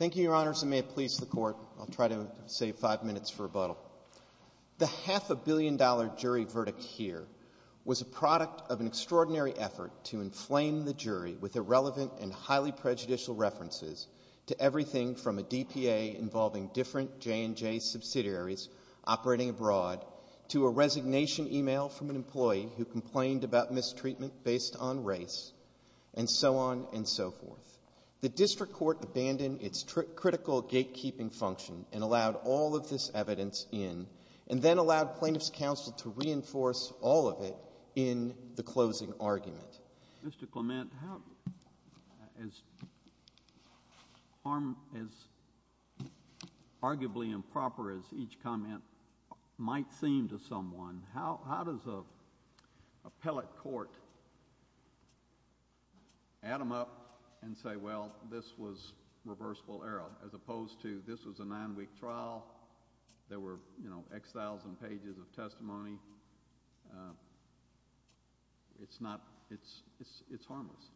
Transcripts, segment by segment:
ll try to save five minutes for rebuttal. The half-a-billion-dollar jury verdict here was a product of an extraordinary effort to inflame the jury with irrelevant and highly prejudicial references to everything from a DPA involving different J&J subsidiaries operating abroad to a resignation email from an employee who complained about mistreatment based on race, and so on and so forth. The district court abandoned its critical gatekeeping function and allowed all of this evidence in, and then allowed plaintiff s counsel to reinforce all of it in the closing argument. Mr. Clement, as arguably improper as each add them up and say, well, this was reversible error, as opposed to, this was a nine-week trial, there were, you know, x-thousand pages of testimony, it s not, it s harmless.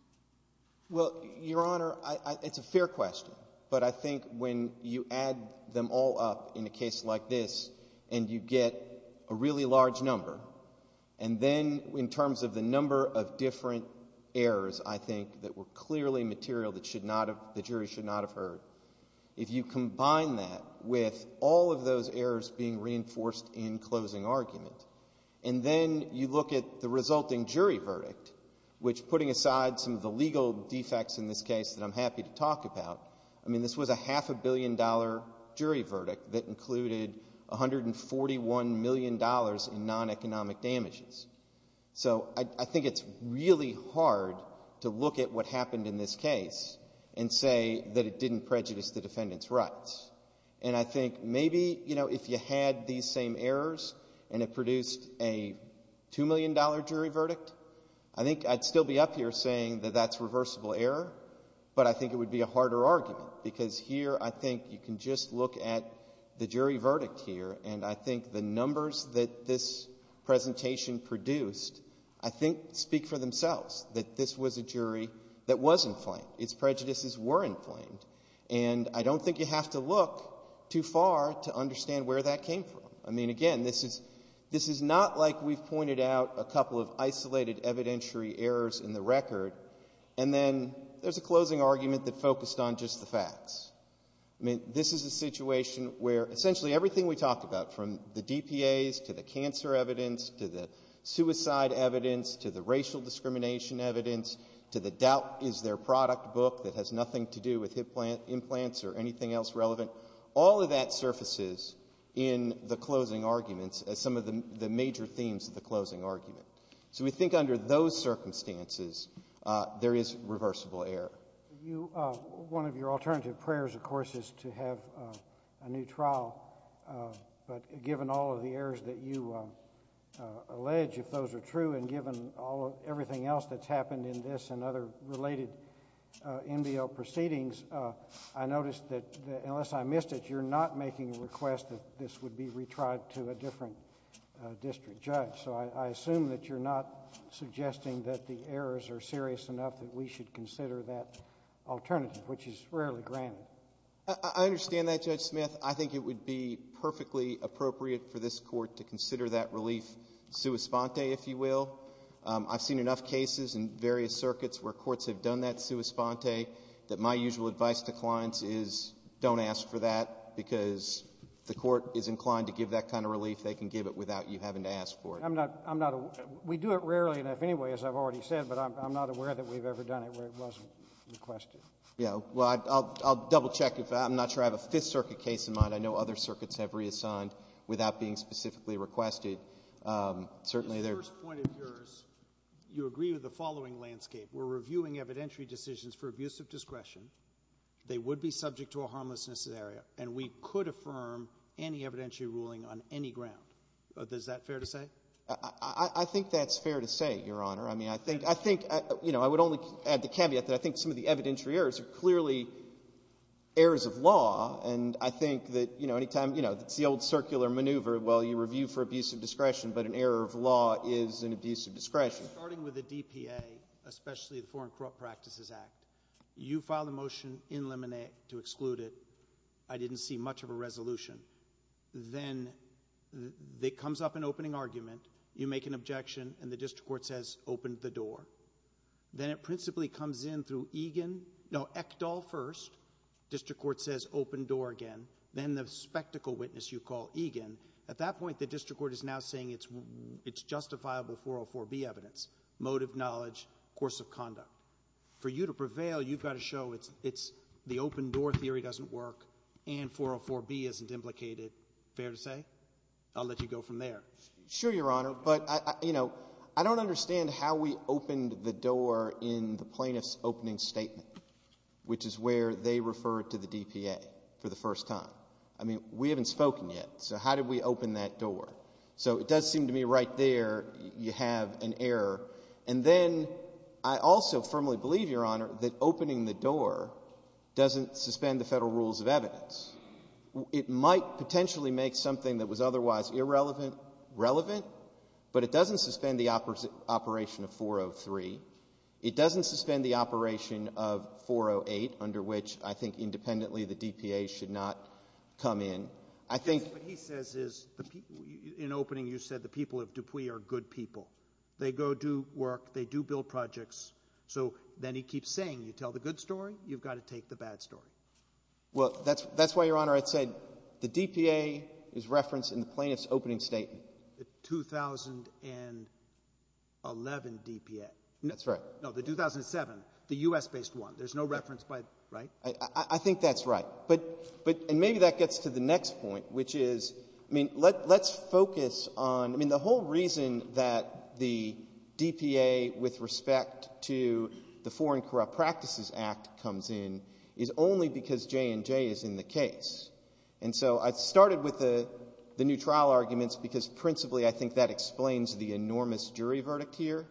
Well, Your Honor, it s a fair question, but I think when you add them all up in a case like this and you get a really large number, and then in terms of the number of different errors, I think, that were clearly material that should not have, the jury should not have heard, if you combine that with all of those errors being reinforced in closing argument, and then you look at the resulting jury verdict, which, putting aside some of the legal defects in this case that I m happy to talk about, I mean, this was a half-a-billion-dollar jury verdict that included $141 million in non-economic damages. So I think it s really hard to look at what happened in this case and say that it didn t prejudice the defendant s rights. And I think maybe, you know, if you had these same errors and it produced a $2 million jury verdict, I think I d still be up here saying that that s reversible error, but I think it would be a harder argument, because here I think you can just look at the jury verdict here, and I think the numbers that this presentation produced, I think, speak for themselves, that this was a jury that was inflamed. Its prejudices were inflamed. And I don t think you have to look too far to understand where that came from. I mean, again, this is not like we ve pointed out a couple of isolated evidentiary errors in the record, and then there s a closing argument that focused on just the facts. I mean, this is a situation where essentially everything we talked about, from the DPAs to the cancer evidence to the suicide evidence to the racial discrimination evidence to the doubt is there product book that has nothing to do with implants or anything else relevant, all of that surfaces in the closing arguments as some of the major themes of the closing argument. So we think under those circumstances, there is reversible error. You one of your alternative prayers, of course, is to have a new trial, but given all of the errors that you allege, if those are true, and given all of everything else that s happened in this and other related NBL proceedings, I noticed that unless I missed it, you re not making a request that this would be retried to a different district judge. So I assume that you re not suggesting that the errors are serious enough that we should consider that alternative, which is rarely granted. I understand that, Judge Smith. I think it would be perfectly appropriate for this Court to consider that relief sua sponte, if you will. I ve seen enough cases in various circuits where courts have done that sua sponte that my usual advice to clients is don t ask for that because if the Court is inclined to give that kind of relief, they can give it without you having to ask for it. I m not we do it rarely enough anyway, as I ve already said, but I m not aware that we ve ever done it where it wasn t requested. Yeah. Well, I ll double-check. I m not sure I have a Fifth Circuit case in mind. I know other circuits have reassigned without being specifically requested. Certainly, there The first point of yours, you agree with the following landscape. We re reviewing evidentiary decisions for abuse of discretion. They would be subject to a harmlessness scenario, and we could affirm any evidentiary ruling on any ground. Is that fair to say? I think that s fair to say, Your Honor. I mean, I think I would only add the caveat that I think some of the evidentiary errors are clearly errors of law, and I think that any time it s the old circular maneuver, well, you review for abuse of discretion, but an error of law is an abuse of discretion. Starting with the DPA, especially the Foreign Corrupt Practices Act, you filed a motion in Lemonette to exclude it. I didn t see much of a resolution. Then, it comes up in opening argument. You make an objection, and the district court says, Open the door. Then, it principally comes in through EGIN. No, ECDL first. District court says, Open door again. Then, the spectacle witness you call EGIN. At that point, the district court is now saying it s justifiable 404B evidence, motive, knowledge, course of conduct. For you to prevail, you ve got to show it s the open door theory doesn t work, and 404B isn t implicated. Fair to say? I ll let you go from there. Sure, Your Honor, but I don t understand how we opened the door in the plaintiff s opening statement, which is where they referred to the DPA for the first time. I mean, we haven t spoken yet, so how did we open that door? So, it does seem to me right there, you have an error. And then, I also firmly believe, Your Honor, that opening the door doesn t suspend the Federal rules of evidence. It might potentially make something that was otherwise irrelevant relevant, but it doesn t suspend the operation of 403. It doesn t suspend the operation of 408, under which, I think, independently, the DPA should not come in. I think what he says is, in opening, you said the people of Dupuy are good people. They go do work. They do build projects. So, then he keeps saying, you tell the good story, you ve got to take the bad story. Well, that s why, Your Honor, I said the DPA is referenced in the plaintiff s opening statement. The 2011 DPA. That s right. No, the 2007, the U.S.-based one. There s no reference by, right? I think that s right. But, and maybe that gets to the next point, which is, I mean, let s focus on, I mean, the whole reason that the DPA, with respect to the Foreign Corrupt Practices Act, comes in is only because J&J is in the case. And so, I started with the new trial arguments because, principally, I think that explains the enormous jury verdict here.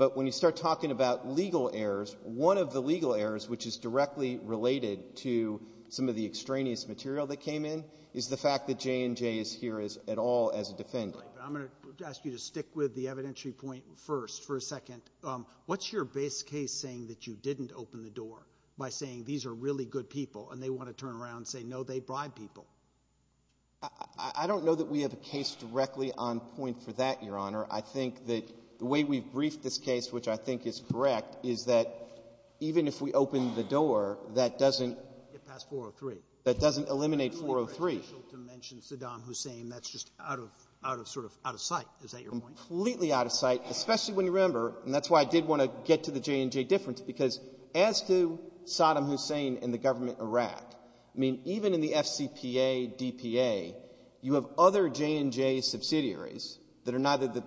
But when you start talking about legal errors, one of the legal errors that are related to some of the extraneous material that came in is the fact that J&J is here at all as a defendant. Right. But I m going to ask you to stick with the evidentiary point first, for a second. What s your base case saying that you didn t open the door by saying, These are really good people? And they want to turn around and say, No, they bribe people. I don t know that we have a case directly on point for that, Your Honor. I think that the way we ve briefed this case, which I think is correct, is that even if we open the door, that doesn t get past 403. That doesn t eliminate 403. You were official to mention Saddam Hussein. That s just out of sort of out of sight. Is that your point? Completely out of sight, especially when you remember, and that s why I did want to get to the J&J difference, because as to Saddam Hussein and the government in Iraq, I mean, even in the FCPA, DPA, you have other J&J subsidiaries that are neither the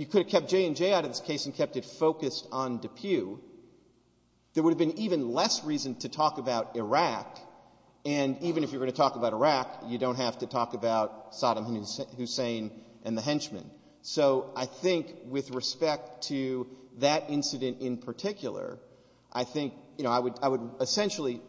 you could have kept J&J out of this case and kept it focused on DePue, there would have been even less reason to talk about Iraq, and even if you were going to talk about Iraq, you don t have to talk about Saddam Hussein and the henchmen. So I think with respect to that incident in particular, I think, you know, I would essentially,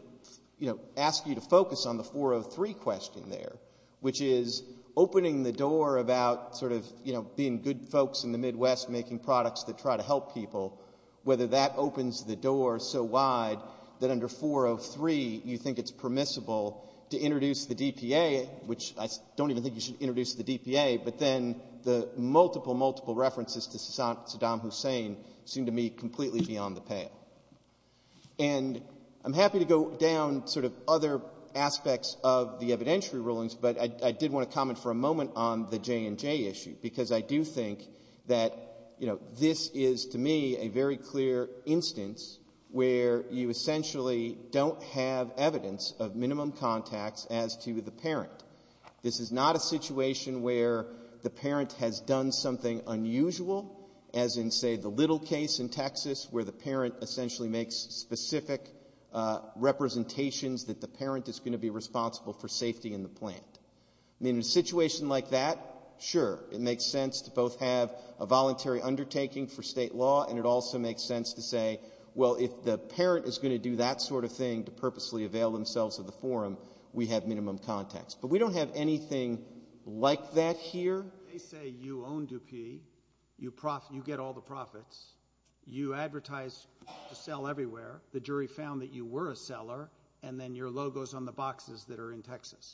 you know, ask you to focus on the 403 question there, which is opening the door about sort of, you know, being good folks in the Midwest making products that try to help people, whether that opens the door so wide that under 403 you think it s permissible to introduce the DPA, which I don t even think you should introduce the DPA, but then the multiple, multiple references to Saddam Hussein seem to me completely beyond the pale. And I m happy to go down sort of other aspects of the evidentiary rulings, but I did want to comment for a moment on the J&J issue, because I do think that, you know, this is, to me, a very clear instance where you essentially don t have evidence of minimum contacts as to the parent. This is not a situation where the parent has done something unusual, as in, say, the Little case in Texas, where the parent essentially makes specific representations that the parent is going to be responsible for safety in the land. I mean, in a situation like that, sure, it makes sense to both have a voluntary undertaking for state law, and it also makes sense to say, well, if the parent is going to do that sort of thing to purposely avail themselves of the forum, we have minimum contacts. But we don t have anything like that here. They say you own Dupuy, you get all the profits, you advertise to sell everywhere, the jury found that you were a seller, and then your logo is on the boxes that are in Texas.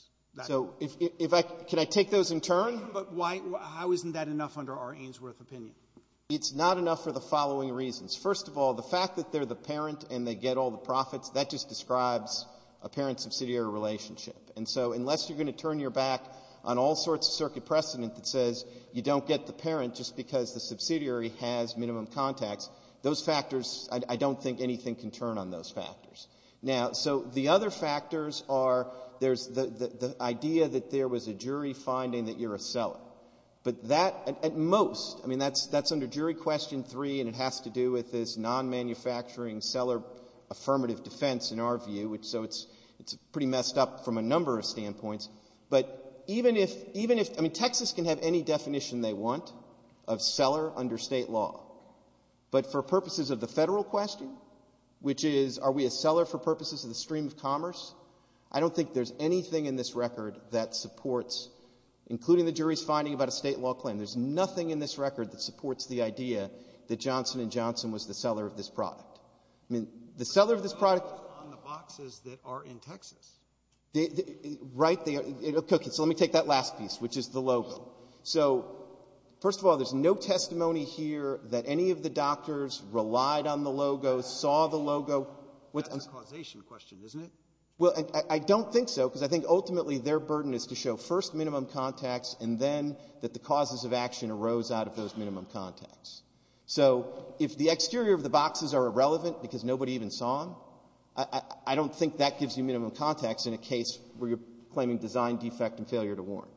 So if I can I take those in turn? But why how isn t that enough under our Ainsworth opinion? It s not enough for the following reasons. First of all, the fact that they re the parent and they get all the profits, that just describes a parent-subsidiary relationship. And so unless you re going to turn your back on all sorts of circuit precedent that says you don t get the parent just because the subsidiary has minimum contacts, those factors I don t think anything can turn on those factors. Now, so the other factors are there s the idea that there was a jury finding that you re a seller. But that at most I mean that s under jury question three and it has to do with this non-manufacturing seller affirmative defense in our view, so it s pretty messed up from a number of standpoints. But even if I mean Texas can have any definition they want of seller under state law, but for purposes of the Federal question, which is are we a seller for purposes of the stream of commerce, I don t think there s anything in this record that supports, including the jury s finding about a state law claim, there s nothing in this record that supports the idea that Johnson & Johnson was the seller of this product. I mean the seller of this product But they rely on the boxes that are in Texas. Right. Okay. So let me take that last piece, which is the logo. So first of all, there s no testimony here that any of the doctors relied on the logo, saw the logo That s a causation question, isn t it? Well, I don t think so because I think ultimately their burden is to show first minimum contacts and then that the causes of action arose out of those minimum contacts. So if the exterior of the boxes are irrelevant because nobody even saw them, I don t think that gives you minimum contacts in a case where you re claiming design defect and failure to warn.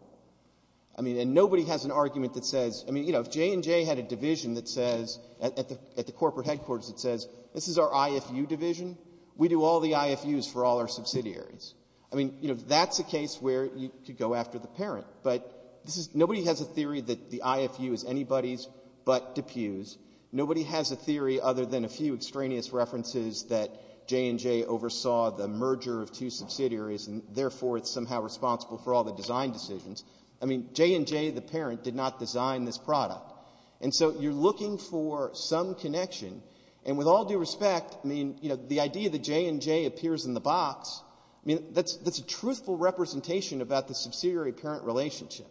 I mean, and nobody has an argument that says I mean, you know, if J&J had a division that says at the corporate headquarters that says this is our IFU division, we do all the IFUs for all our subsidiaries. I mean, you know, that s a case where you could go after the parent. But this is nobody has a theory that the IFU is anybody s but DePue s. Nobody has a theory other than a few extraneous references that J&J oversaw the merger of two subsidiaries and therefore it s somehow responsible for all the design decisions. I mean, J&J, the parent, did not design this product. And so you re looking for some connection. And with all due respect, I mean, you know, the idea that J&J appears in the box, I mean, that s a truthful representation about the subsidiary parent relationship.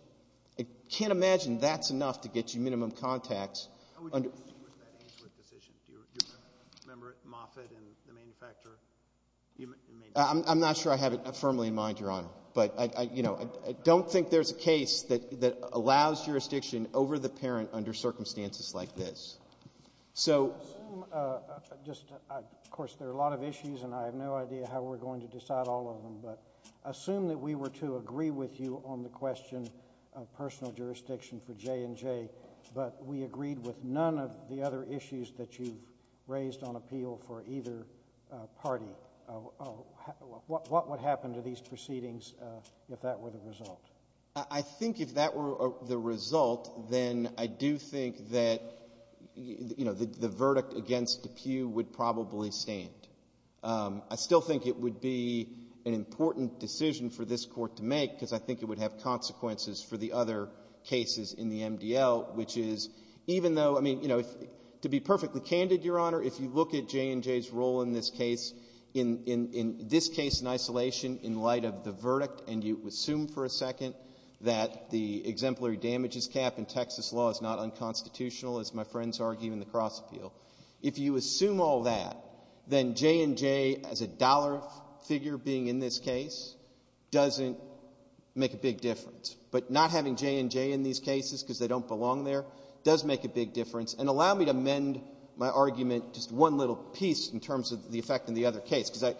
I can t imagine that s enough to get you minimum contacts. How would you use that Ainsworth decision? Do you remember it? Moffitt and the manufacturer I m not sure I have it firmly in mind, Your Honor. But, you know, I don t think there s a case that allows jurisdiction over the parent under circumstances like this. So I assume just of course there are a lot of issues and I have no idea how we re going to decide all of them. But I assume that we were to agree with you on the question of personal jurisdiction for J&J, but we agreed with none of the other issues that you ve raised, Your Honor. So, you know, what would happen to these proceedings if that were the result? I think if that were the result, then I do think that, you know, the verdict against DePue would probably stand. I still think it would be an important decision for this Court to make because I think it would have consequences for the other cases in the MDL, which is even though, I mean, you know, to be perfectly candid, Your Honor, if you look at J&J s role in this case, in this case in isolation, in light of the verdict, and you assume for a second that the exemplary damages cap in Texas law is not unconstitutional, as my friends argue in the cross-appeal, if you assume all that, then J&J as a dollar figure being in this case doesn t make a big difference. But not having J&J in these cases because they don t belong there does make a big difference and allow me to mend my argument just one little piece in terms of the effect in the other case because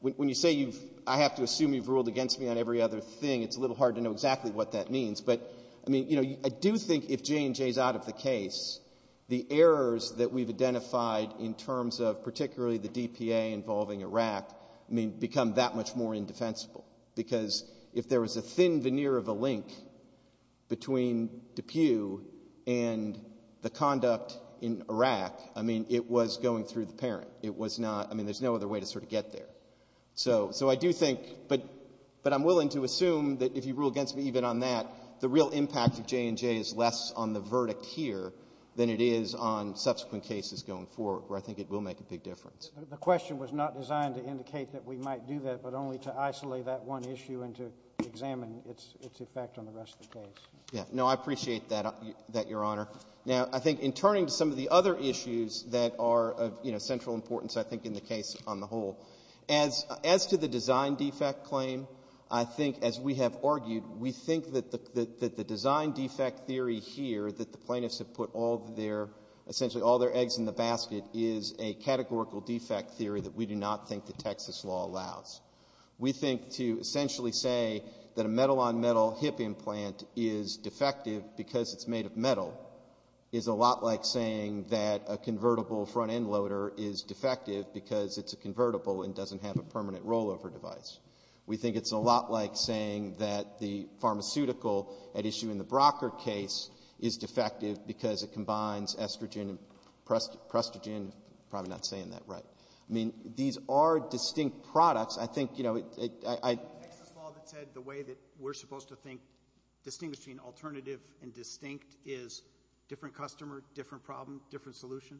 when you say I have to assume you ve ruled against me on every other thing, it s a little hard to know exactly what that means. But, I mean, you know, I do think if J&J s out of the case, the errors that we ve identified in terms of particularly the DPA involving Iraq, I mean, become that much more indefensible because if there was a thin veneer of a link between DePue and the conduct in Iraq, I mean, it was going through the parent. It was not I mean, there s no other way to sort of get there. So I do think but I m willing to assume that if you rule against me even on that, the real impact of J&J is less on the verdict here than it is on subsequent cases going forward where I think it will make a big difference. The question was not designed to indicate that we might do that but only to isolate that one issue and to examine its effect on the rest of the case. No, I appreciate that, Your Honor. Now, I think in turning to some of the other issues that are of, you know, central importance I think in the case on the whole, as to the design defect claim, I think as we have argued, we think that the design defect theory here that the plaintiffs have put all their essentially all their eggs in the basket is a categorical defect theory that we do not think the Texas law allows. We think to essentially say that a metal-on-metal hip implant is defective because it s made of metal is a lot like saying that a convertible front-end loader is defective because it s a convertible and doesn t have a permanent rollover device. We think it s a lot like saying that the pharmaceutical at issue in the Brocker case is defective because it combines estrogen and prestogen probably not saying that right. I mean, these are Texas laws that said the way that we re supposed to think distinguishing alternative and distinct is different customer, different problem, different solution.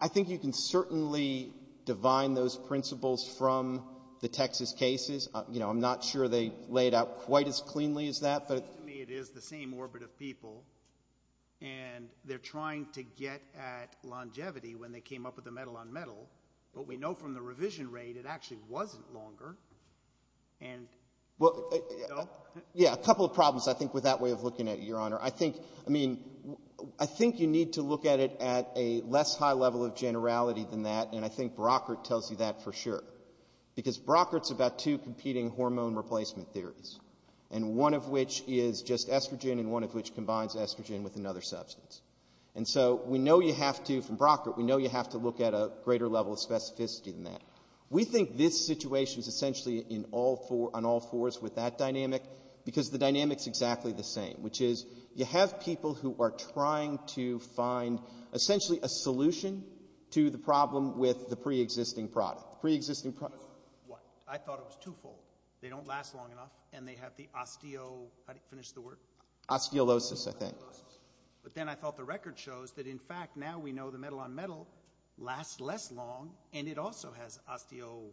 I think you can certainly divine those principles from the Texas cases. You know, I m not sure they laid out quite as cleanly as that, but to me it is the same orbit of people and they re trying to get at longevity when they came up with the metal-on-metal, but we know from the revision rate it actually wasn t longer. Well, yeah, a couple of problems I think with that way of looking at it, Your Honor. I think, I mean, I think you need to look at it at a less high level of generality than that, and I think Brockert tells you that for sure. Because Brockert s about two competing hormone replacement theories, and one of which is just estrogen and one of which combines estrogen with another substance. And so we know you have to, from that. We think this situation is essentially in all four, on all fours with that dynamic because the dynamic is exactly the same, which is you have people who are trying to find essentially a solution to the problem with the pre-existing product, pre-existing product. I thought it was twofold. They don t last long enough and they have the osteo, how do you finish the word? Osteolosis, I think. Osteolosis. But then I thought the record shows that in fact now we know the metal-on-metal lasts less long and it also has osteo.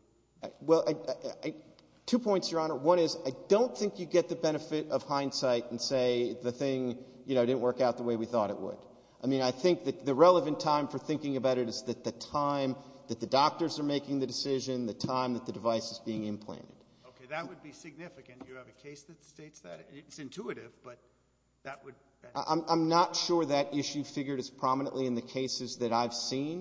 Well, two points, Your Honor. One is I don t think you get the benefit of hindsight and say the thing, you know, didn t work out the way we thought it would. I mean, I think that the relevant time for thinking about it is that the time that the doctors are making the decision, the time that the device is being implanted. Okay, that would be significant. Do you have a case that states that? It s intuitive, but that would I m not sure that issue figured as prominently in the cases that I ve seen.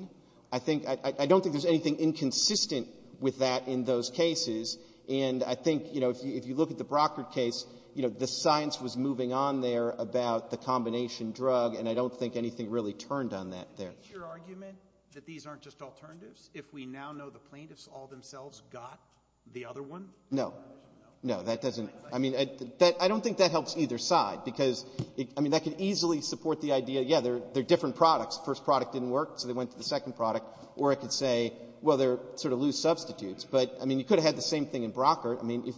I think I don t think there s anything inconsistent with that in those cases. And I think, you know, if you look at the Brockert case, you know, the science was moving on there about the combination drug and I don t think anything really turned on that there. Is it your argument that these aren t just alternatives if we now know the plaintiffs all themselves got the other one? No. No, that doesn t. I mean, I don t think that helps either side because, I mean, that could easily support the idea, yeah, they re different products. The first product didn t work, so they went to the second product. Or I could say, well, they re sort of loose substitutes. But, I mean, you could have had the same thing in Brockert. I mean,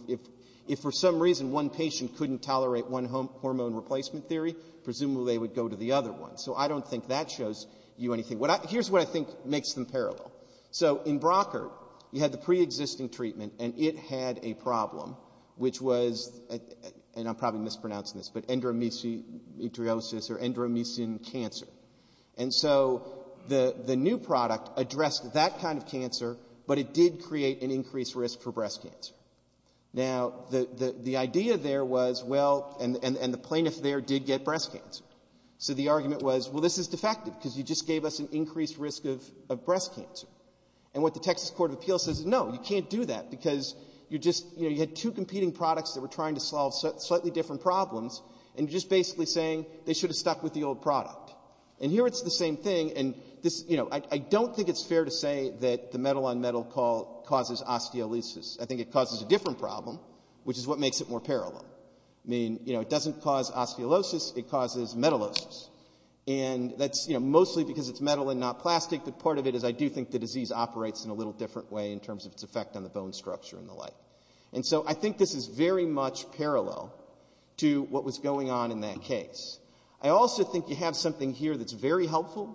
if for some reason one patient couldn t tolerate one hormone replacement theory, presumably they would go to the other one. So I don t think that shows you anything. Here s what I think makes them parallel. So in Brockert, you had the preexisting treatment and it had a problem which was, and I m probably mispronouncing this, but endometriosis or endometriosis cancer. And so the new product addressed that kind of cancer, but it did create an increased risk for breast cancer. Now, the idea there was, well, and the plaintiff there did get breast cancer. So the argument was, well, this is defective because you just gave us an increased risk of breast cancer. And what the Texas Court of Appeals says is, no, you can t do that because you just, you know, you had two competing products that were trying to solve slightly different problems, and you re just basically saying they should have stuck with the old product. And here it s the same thing, and this, you know, I don t think it s fair to say that the metal-on-metal causes osteolysis. I think it causes a different problem, which is what makes it more parallel. I mean, you know, it doesn t cause osteolysis, it causes metalosis. And that s, you know, mostly because it s metal and not plastic, but part of it is I do think the disease operates in a little different way in terms of its effect on the bone structure and the like. And so I think this is very much parallel to what was going on in that case. I also think you have something here that s very helpful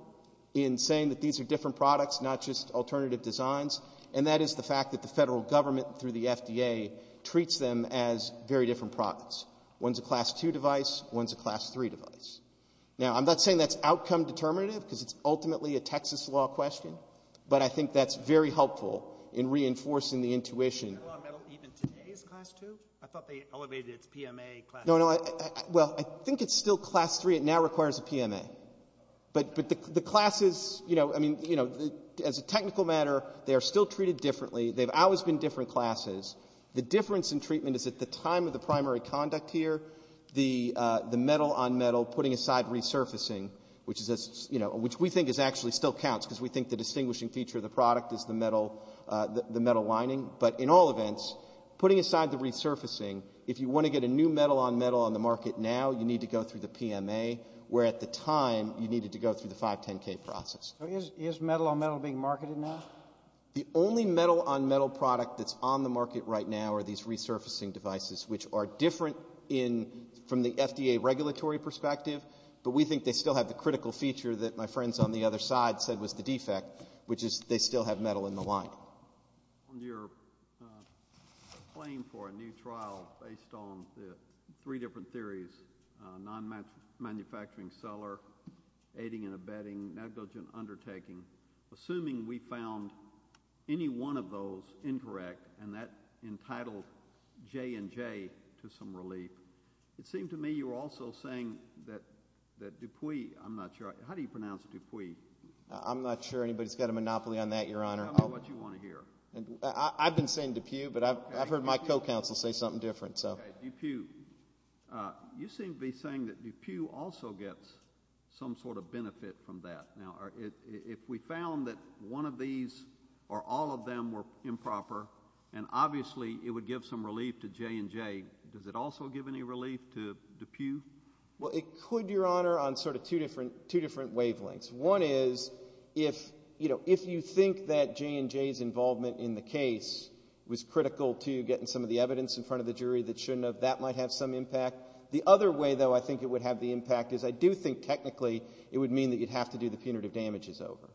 in saying that these are different products, not just alternative designs, and that is the fact that the federal government through the FDA treats them as very different products. One s a class 2 device, one s a class 3 device. Now, I m not saying that s outcome determinative because it s ultimately a Texas law question, but I think that s very helpful in reinforcing the intuition. Male Speaker 2 Metal-on-metal, even today, is class 2? I thought they elevated it to PMA class 2. Dr. Eric Green No, no. Well, I think it s still class 3. It now requires a PMA. But the classes, you know, I mean, you know, as a technical matter, they are still treated differently. They ve always been different classes. The difference in treatment is at the time of the primary conduct here, the metal-on-metal putting aside resurfacing, which is, you know, which we think is actually still counts because we think the distinguishing feature of the product is the metal lining. But in all events, putting aside the resurfacing, if you want to get a new metal-on-metal on the market now, you need to go through the PMA, where at the time you needed to go through the 510K process. Male Speaker 2 Is metal-on-metal being marketed now? Dr. Eric Green The only metal-on-metal product that s on the market right now are these resurfacing devices, which are different in from the FDA regulatory perspective, but we think they still have the critical feature that my friends on the other side said was the defect, which is they still have metal in the line. Male Speaker 3 On your claim for a new trial based on the three different theories, non-manufacturing seller, aiding and abetting, negligent undertaking, assuming we found any one of those incorrect and that entitled J&J to some relief, it seemed to me you were also saying that Dupuy, I'm not sure, how do you pronounce Dupuy? Dr. Eric Green I'm not sure anybody's got a monopoly on that, Your Honor. Male Speaker 3 Tell me what you want to hear. Dr. Eric Green I've been saying Dupuy, but I've heard my co-counsel say something different. Male Speaker 3 Okay, Dupuy. You seem to be saying that Dupuy also gets some sort of benefit from that. Now, if we found that one of these or all of them were improper, and obviously it would give some relief to J&J, does it also give any relief to Dupuy? Dr. Eric Green Well, it could, Your Honor, on sort of two different wavelengths. One is if you think that J&J's involvement in the case was critical to getting some of the evidence in front of the jury that shouldn't have, that might have some impact. The other way, though, I think it would have the impact is I do think technically it would mean that you'd have to do the punitive damages over.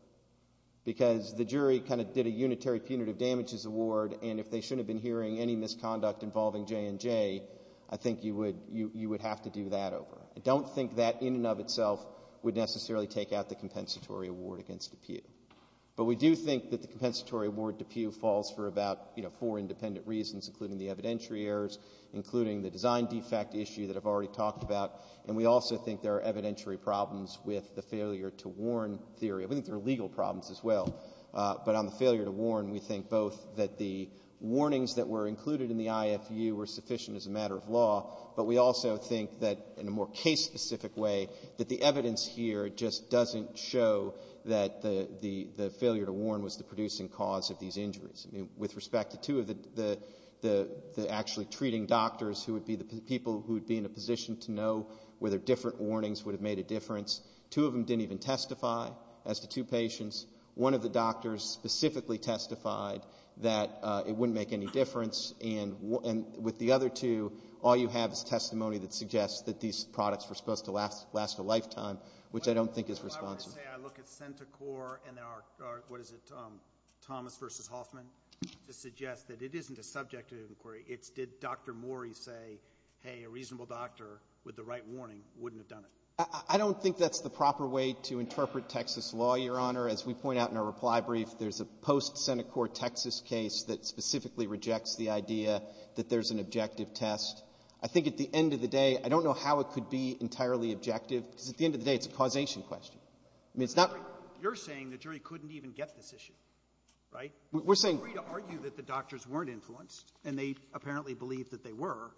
Because the jury kind of did a unitary punitive damages award, and if they shouldn't have been hearing any misconduct involving J&J, I think you would have to do that over. I don't think that in and of itself would necessarily take out the compensatory award against Dupuy. But we do think that the compensatory award to Dupuy falls for about four independent reasons, including the evidentiary errors, including the design defect issue that I've already talked about. And we also think there are evidentiary problems with the failure to warn theory. We think there are legal problems as well. But on the failure to warn, we think both that the warnings that were included in the IFU were sufficient as a matter of law, but we also think that in a more case-specific way that the evidence here just doesn't show that the failure to warn was the producing cause of these injuries. I mean, with respect to two of the actually treating doctors who would be the people who would be in a position to know whether different warnings would have made a difference, two of them didn't even testify as to two patients. One of the doctors specifically testified that it wouldn't make any difference. And with the other two, all you have is testimony that suggests that these products were supposed to last a lifetime, which I don't think is responsive. I want to say I look at CentiCorps and our, what is it, Thomas v. Hoffman, to suggest that it isn't a subjective inquiry. It's did Dr. Morey say, hey, a reasonable doctor with the right warning wouldn't have done it? I don't think that's the proper way to interpret Texas law, Your Honor. As we point out in our reply brief, there's a post-CentiCorps Texas case that specifically rejects the idea that there's an objective test. I think at the end of the day, I don't know how it could be entirely objective because at the end of the day, it's a causation question. I mean, it's not — You're saying the jury couldn't even get this issue, right? We're saying — And they apparently believed that they were.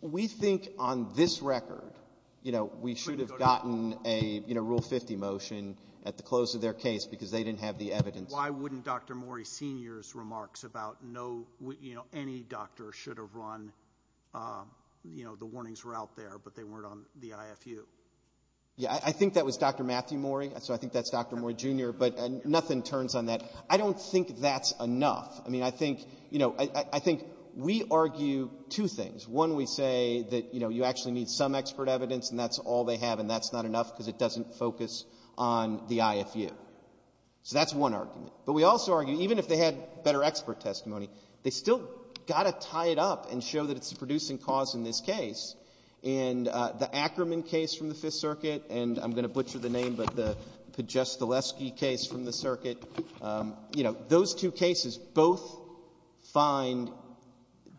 We think on this record, you know, we should have gotten a Rule 50 motion at the close of their case because they didn't have the evidence. Why wouldn't Dr. Morey Sr.'s remarks about no, you know, any doctor should have run, you know, the warnings were out there, but they weren't on the IFU? Yeah, I think that was Dr. Matthew Morey, so I think that's Dr. Morey Jr., but nothing turns on that. I don't think that's enough. I mean, I think, you know, I think we argue two things. One, we say that, you know, you actually need some expert evidence and that's all they have and that's not enough because it doesn't focus on the IFU. So that's one argument. But we also argue, even if they had better expert testimony, they still got to tie it up and show that it's a producing cause in this case. And the Ackerman case from the Fifth Circuit, and I'm going to butcher the name, but the Podjestileski case from the circuit, you know, those two cases both find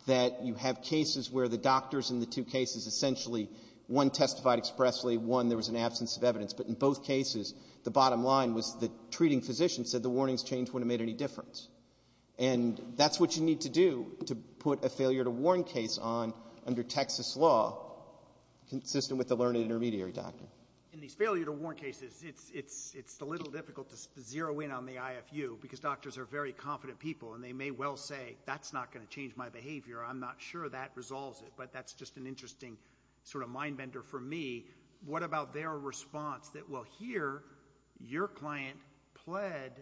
that you have cases where the doctors in the two cases essentially, one testified expressly, one there was an absence of evidence, but in both cases the bottom line was the treating physician said the warnings changed when it made any difference. And that's what you need to do to put a failure to warn case on under Texas law, consistent with the learned intermediary doctrine. So in these failure to warn cases, it's a little difficult to zero in on the IFU because doctors are very confident people and they may well say, that's not going to change my behavior, I'm not sure that resolves it, but that's just an interesting sort of mind bender for me. What about their response that, well, here your client pled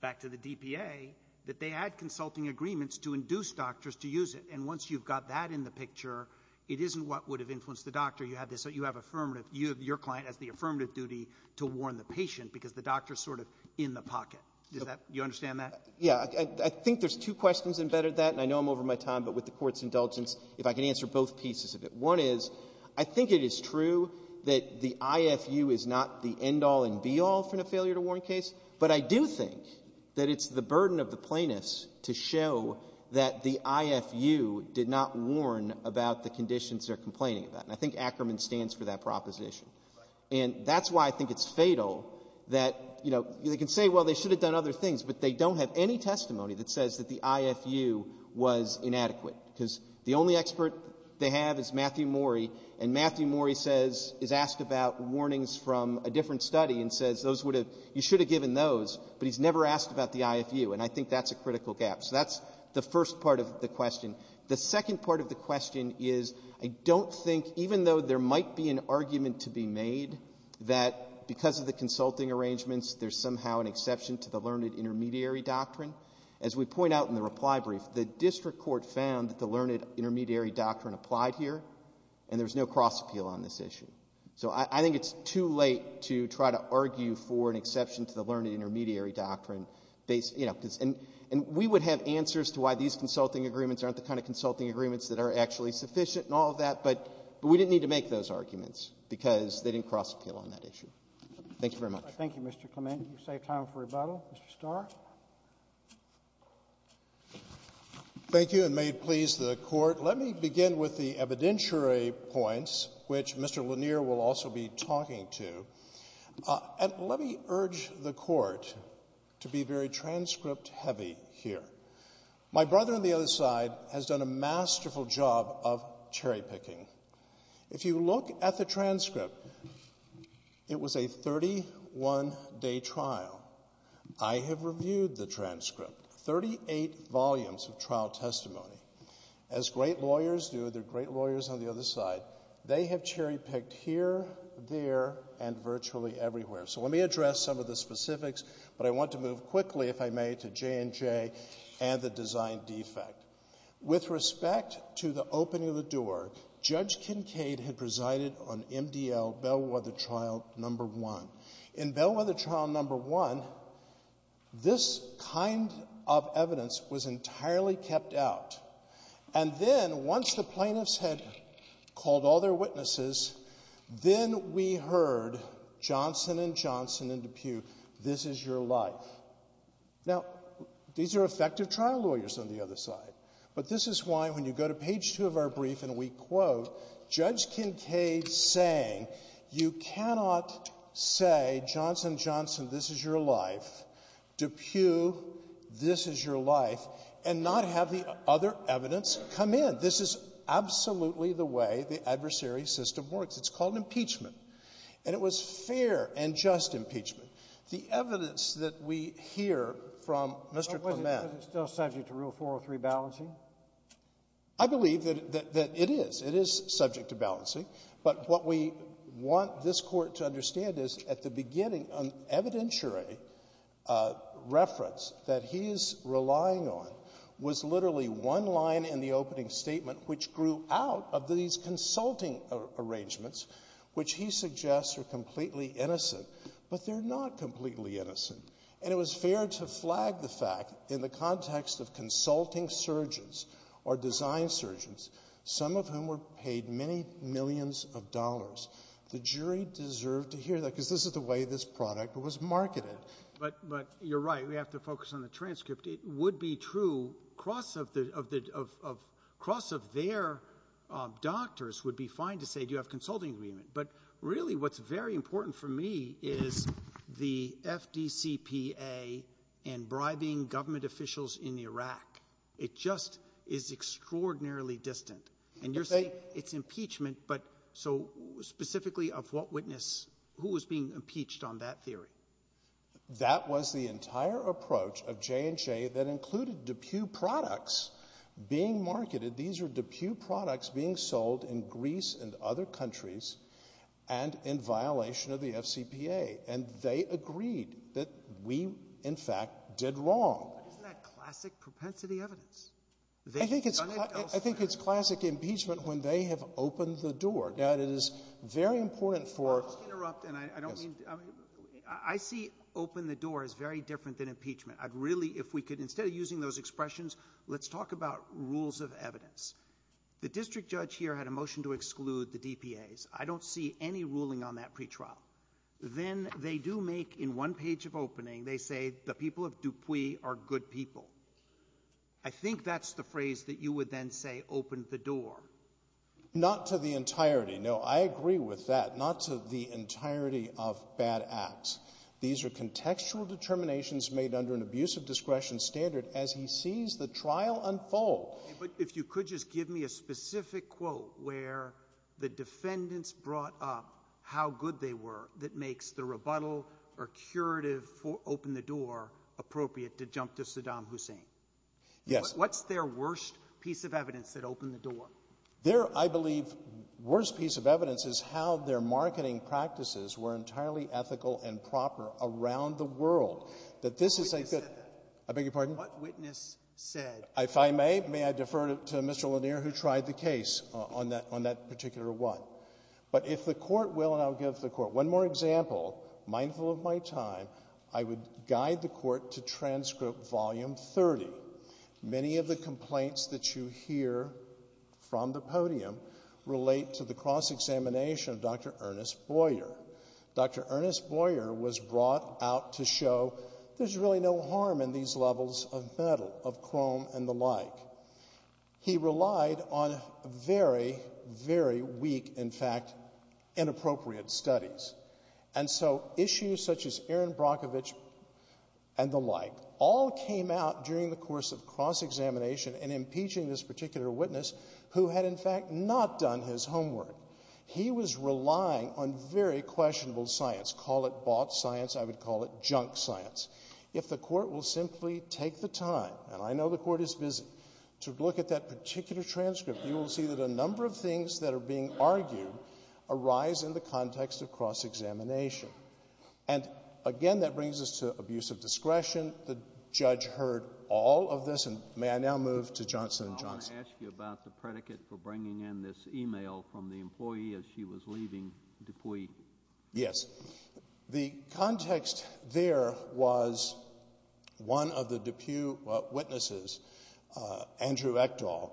back to the DPA that they had consulting agreements to induce doctors to use it. And once you've got that in the picture, it isn't what would have influenced the doctor. You have this, you have affirmative, you have your client as the affirmative duty to warn the patient because the doctor is sort of in the pocket. Does that, do you understand that? Yeah. I think there's two questions embedded in that, and I know I'm over my time, but with the Court's indulgence, if I can answer both pieces of it. One is, I think it is true that the IFU is not the end-all and be-all for a failure to warn case, but I do think that it's the burden of the plaintiffs to show that the IFU did not warn about the conditions they're complaining about. And I think Ackerman stands for that proposition. And that's why I think it's fatal that, you know, they can say, well, they should have done other things, but they don't have any testimony that says that the IFU was inadequate, because the only expert they have is Matthew Morey, and Matthew Morey says, is asked about warnings from a different study and says those would have, you should have given those, but he's never asked about the IFU, and I think that's a critical gap. So that's the first part of the question. The second part of the question is, I don't think, even though there might be an argument to be made that because of the consulting arrangements, there's somehow an exception to the learned intermediary doctrine, as we point out in the reply brief, the district court found that the learned intermediary doctrine applied here, and there's no cross-appeal on this issue. So I think it's too late to try to argue for an exception to the learned intermediary doctrine, you know, and we would have answers to why these consulting agreements aren't the kind of consulting agreements that are actually sufficient and all of that, but we didn't need to make those arguments because they didn't cross-appeal on that issue. Thank you very much. Roberts. Thank you, Mr. Clement. We save time for rebuttal. Mr. Starr. Starr. Thank you, and may it please the Court, let me begin with the evidentiary points, which Mr. Lanier will also be talking to. And let me urge the Court to be very transcript-heavy here. My brother on the other side has done a masterful job of cherry-picking. If you look at the transcript, it was a 31-day trial. I have reviewed the transcript, 38 volumes of trial testimony. As great lawyers do, they're great lawyers on the other side, they have cherry-picked here, there, and virtually everywhere. So let me address some of the specifics, but I want to move quickly, if I may, to J&J and the design defect. With respect to the opening of the door, Judge Kincaid had presided on MDL, Bellwether Trial No. 1. In Bellwether Trial No. 1, this kind of evidence was entirely kept out, and then once the plaintiffs had called all their witnesses, then we heard Johnson & Johnson and DePue, this is your life. Now, these are effective trial lawyers on the other side. But this is why, when you go to page 2 of our brief and we quote, Judge Kincaid saying, you cannot say Johnson & Johnson, this is your life, DePue, this is your life, and not have the other evidence come in. This is absolutely the way the adversary system works. It's called impeachment. And it was fair and just impeachment. The evidence that we hear from Mr. Clement — But was it still subject to Rule 403 balancing? I believe that it is. It is subject to balancing. But what we want this Court to understand is, at the beginning, an evidentiary reference that he is relying on was literally one line in the opening statement which grew out of these consulting arrangements, which he suggests are completely innocent, but they're not completely innocent. And it was fair to flag the fact, in the context of consulting surgeons or design surgeons, some of whom were paid many millions of dollars. The jury deserved to hear that, because this is the way this product was marketed. But you're right. We have to focus on the transcript. It would be true. Cross of their doctors would be fine to say, do you have a consulting agreement. But really what's very important for me is the FDCPA and bribing government officials in Iraq. It just is extraordinarily distant. And you're saying it's impeachment. But so specifically of what witness, who was being impeached on that theory? That was the entire approach of J&J that included DePue products being marketed. These are DePue products being sold in Greece and other countries and in violation of the FCPA. And they agreed that we, in fact, did wrong. But isn't that classic propensity evidence? I think it's classic impeachment when they have opened the door. Now it is very important for I'll just interrupt. And I don't mean to. I see open the door as very different than impeachment. I'd really, if we could, instead of using those expressions, let's talk about rules of evidence. The district judge here had a motion to exclude the DPAs. I don't see any ruling on that pretrial. Then they do make, in one page of opening, they say the people of DePue are good people. I think that's the phrase that you would then say, open the door. Not to the entirety. No, I agree with that. Not to the entirety of bad acts. These are contextual determinations made under an abusive discretion standard as he sees the trial unfold. But if you could just give me a specific quote where the defendants brought up how good they were, that makes the rebuttal or curative for open the door seem. Yes. What's their worst piece of evidence that opened the door? Their, I believe, worst piece of evidence is how their marketing practices were entirely ethical and proper around the world. That this is a good — What witness said that? I beg your pardon? What witness said — If I may, may I defer to Mr. Lanier, who tried the case on that particular one. But if the Court will, and I'll give the Court one more example, mindful of my time, I would guide the Court to transcript volume 30. Many of the complaints that you hear from the podium relate to the cross examination of Dr. Ernest Boyer. Dr. Ernest Boyer was brought out to show there's really no harm in these levels of metal, of chrome and the like. He relied on very, very weak, in fact, inappropriate studies. And so issues such as Erin Brockovich and the like all came out during the course of cross examination in impeaching this particular witness who had, in fact, not done his homework. He was relying on very questionable science. Call it bought science. I would call it junk science. If the Court will simply take the time, and I know the Court is busy, to look at that particular transcript, you will see that a number of things that are being argued arise in the context of cross examination. And, again, that brings us to abuse of discretion. The judge heard all of this. And may I now move to Johnson & Johnson? I want to ask you about the predicate for bringing in this e-mail from the employee as she was leaving Dupuy. Yes. The context there was one of the Dupuy witnesses, Andrew Echdahl,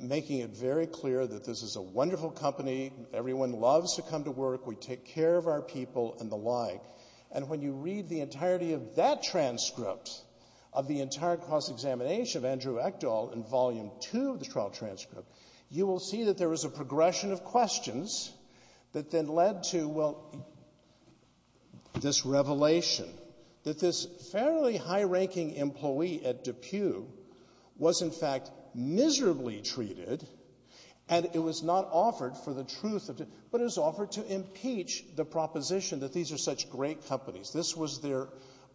making it very clear that this is a wonderful company. Everyone loves to come to work. We take care of our people and the like. And when you read the entirety of that transcript of the entire cross examination of Andrew Echdahl in Volume II of the trial transcript, you will see that there was a progression of questions that then led to, well, this revelation that this fairly high-ranking employee at Dupuy was, in fact, miserably treated, and it was not offered for the truth of it, but it was offered to impeach the proposition that these are such great companies. This was their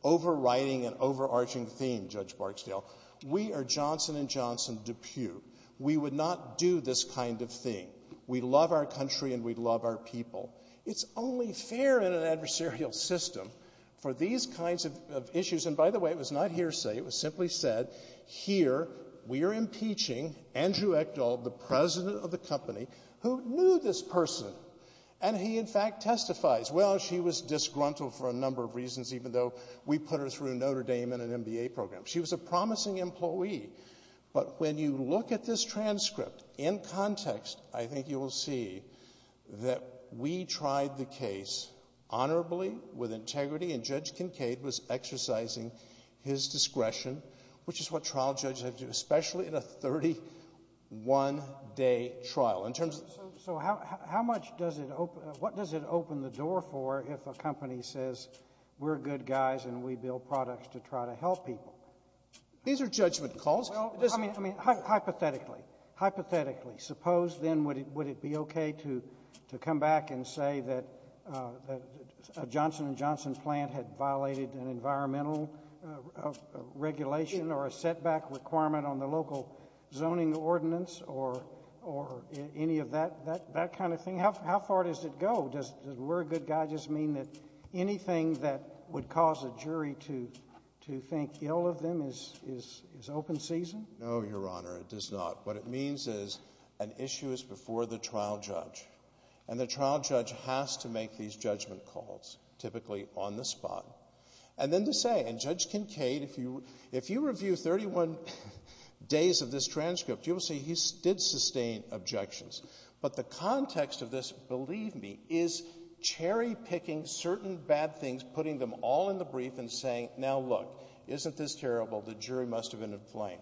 overriding and overarching theme, Judge Barksdale. We are Johnson & Johnson Dupuy. We would not do this kind of thing. We love our country and we love our people. It's only fair in an adversarial system for these kinds of issues. And, by the way, it was not hearsay. It was simply said, here we are impeaching Andrew Echdahl, the president of the company, who knew this person, and he, in fact, testifies. Well, she was disgruntled for a number of reasons, even though we put her through Notre Dame and an MBA program. She was a promising employee. But when you look at this transcript in context, I think you will see that we tried the case honorably, with integrity, and Judge Kincaid was exercising his discretion, which is what trial judges have to do, especially in a 31-day trial. In terms of the ---- So how much does it open the door for if a company says we're good guys and we build products to try to help people? These are judgment calls. Well, I mean, hypothetically. Hypothetically. Suppose then would it be okay to come back and say that a Johnson & Johnson plant had violated an environmental regulation or a setback requirement on the local zoning ordinance or any of that kind of thing? How far does it go? Does we're a good guy just mean that anything that would cause a jury to think ill of them is open season? No, Your Honor, it does not. What it means is an issue is before the trial judge, and the trial judge has to make these judgment calls, typically on the spot. And then to say, and Judge Kincaid, if you review 31 days of this transcript, you will see he did sustain objections. But the context of this, believe me, is cherry-picking certain bad things, putting them all in the brief and saying, now look, isn't this terrible? The jury must have been in play.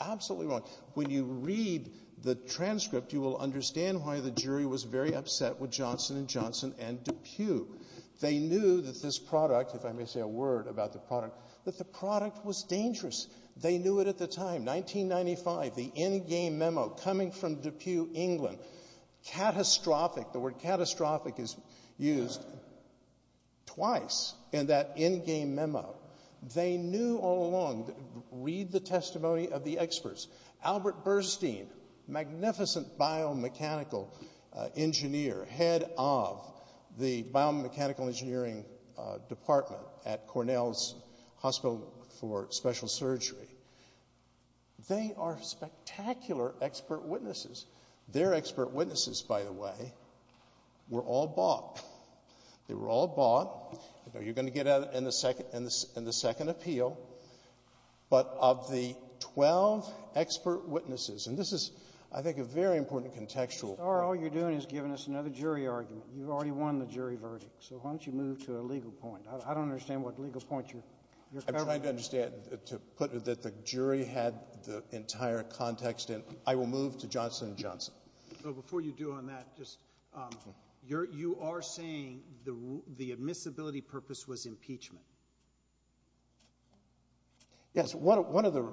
Absolutely wrong. When you read the transcript, you will understand why the jury was very upset with Johnson & Johnson and DePue. They knew that this product, if I may say a word about the product, that the product was dangerous. They knew it at the time. 1995, the in-game memo coming from DePue, England. Catastrophic, the word catastrophic is used twice in that in-game memo. They knew all along, read the testimony of the experts. Albert Burstein, magnificent biomechanical engineer, head of the biomechanical engineering department at Cornell's Hospital for Special Surgery. They are spectacular expert witnesses. Their expert witnesses, by the way, were all bought. They were all bought. You're going to get that in the second appeal. But of the 12 expert witnesses, and this is, I think, a very important contextual point. Mr. Starr, all you're doing is giving us another jury argument. You've already won the jury verdict, so why don't you move to a legal point? I don't understand what legal point you're covering. I'm trying to understand, to put it that the jury had the entire context in. I will move to Johnson & Johnson. Well, before you do on that, just you are saying the admissibility purpose was impeachment. Yes. One of the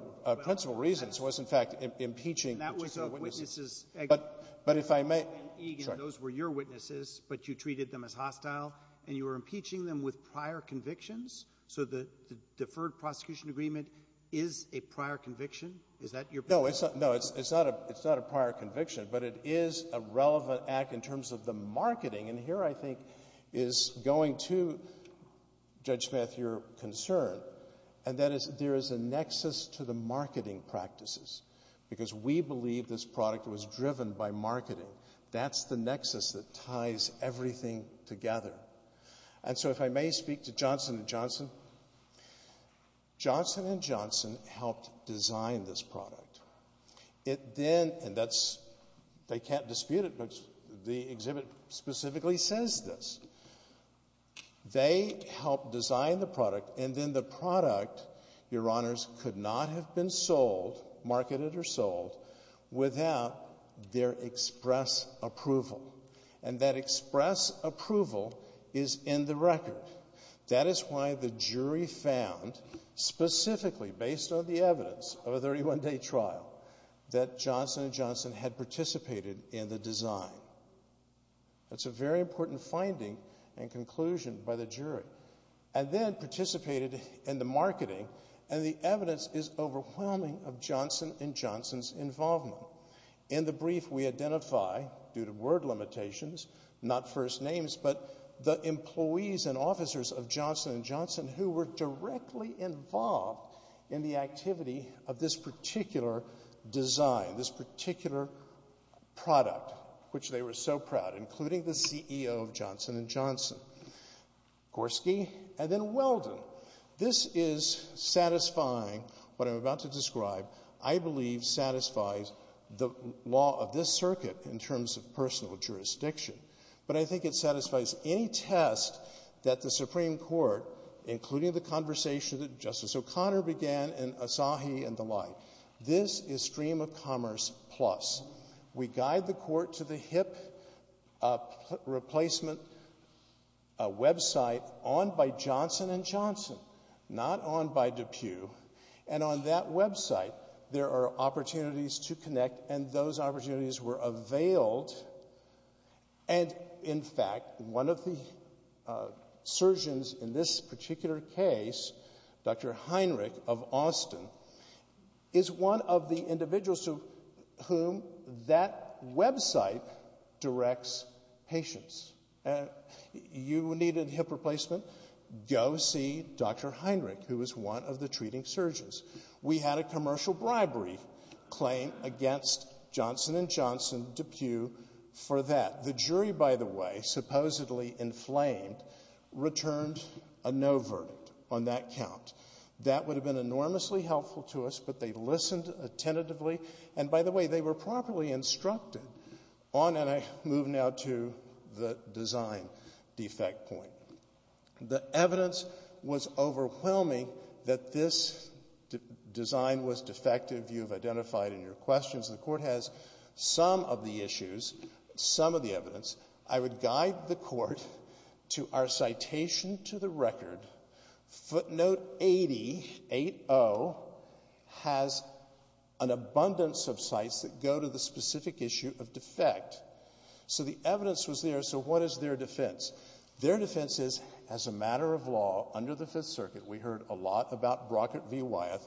principal reasons was, in fact, impeaching. And that was of witnesses. But if I may. Those were your witnesses, but you treated them as hostile, and you were impeaching them with prior convictions? So the deferred prosecution agreement is a prior conviction? Is that your point? No, it's not a prior conviction. But it is a relevant act in terms of the marketing. And here, I think, is going to, Judge Smith, your concern, and that is there is a nexus to the marketing practices because we believe this product was driven by marketing. That's the nexus that ties everything together. And so if I may speak to Johnson & Johnson. Johnson & Johnson helped design this product. And they can't dispute it, but the exhibit specifically says this. They helped design the product, and then the product, your honors, could not have been sold, marketed or sold, without their express approval. And that express approval is in the record. That is why the jury found, specifically based on the evidence of a 31-day trial, that Johnson & Johnson had participated in the design. That's a very important finding and conclusion by the jury. And then participated in the marketing, and the evidence is overwhelming of Johnson & Johnson's involvement. In the brief, we identify, due to word limitations, not first names, but the employees and officers of Johnson & Johnson who were directly involved in the activity of this particular design, this particular product, which they were so proud, including the CEO of Johnson & Johnson, Gorski, and then Weldon. This is satisfying what I'm about to describe, I believe satisfies the law of this circuit in terms of personal jurisdiction. But I think it satisfies any test that the Supreme Court, including the conversation that Justice O'Connor began and Asahi and the like. This is Stream of Commerce Plus. We guide the court to the HIP replacement website, on by Johnson & Johnson, not on by DePue. And on that website, there are opportunities to connect, and those opportunities were availed. And, in fact, one of the surgeons in this particular case, Dr. Heinrich of Austin, is one of the individuals to whom that website directs patients. You needed HIP replacement? Go see Dr. Heinrich, who is one of the treating surgeons. We had a commercial bribery claim against Johnson & Johnson, DePue, for that. The jury, by the way, supposedly inflamed, returned a no verdict on that count. That would have been enormously helpful to us, but they listened attentively. And, by the way, they were properly instructed. And I move now to the design defect point. The evidence was overwhelming that this design was defective. You have identified in your questions. The court has some of the issues, some of the evidence. I would guide the court to our citation to the record. Footnote 8080 has an abundance of sites that go to the specific issue of defect. So the evidence was there, so what is their defense? Their defense is, as a matter of law, under the Fifth Circuit, we heard a lot about Brockett v. Wyeth,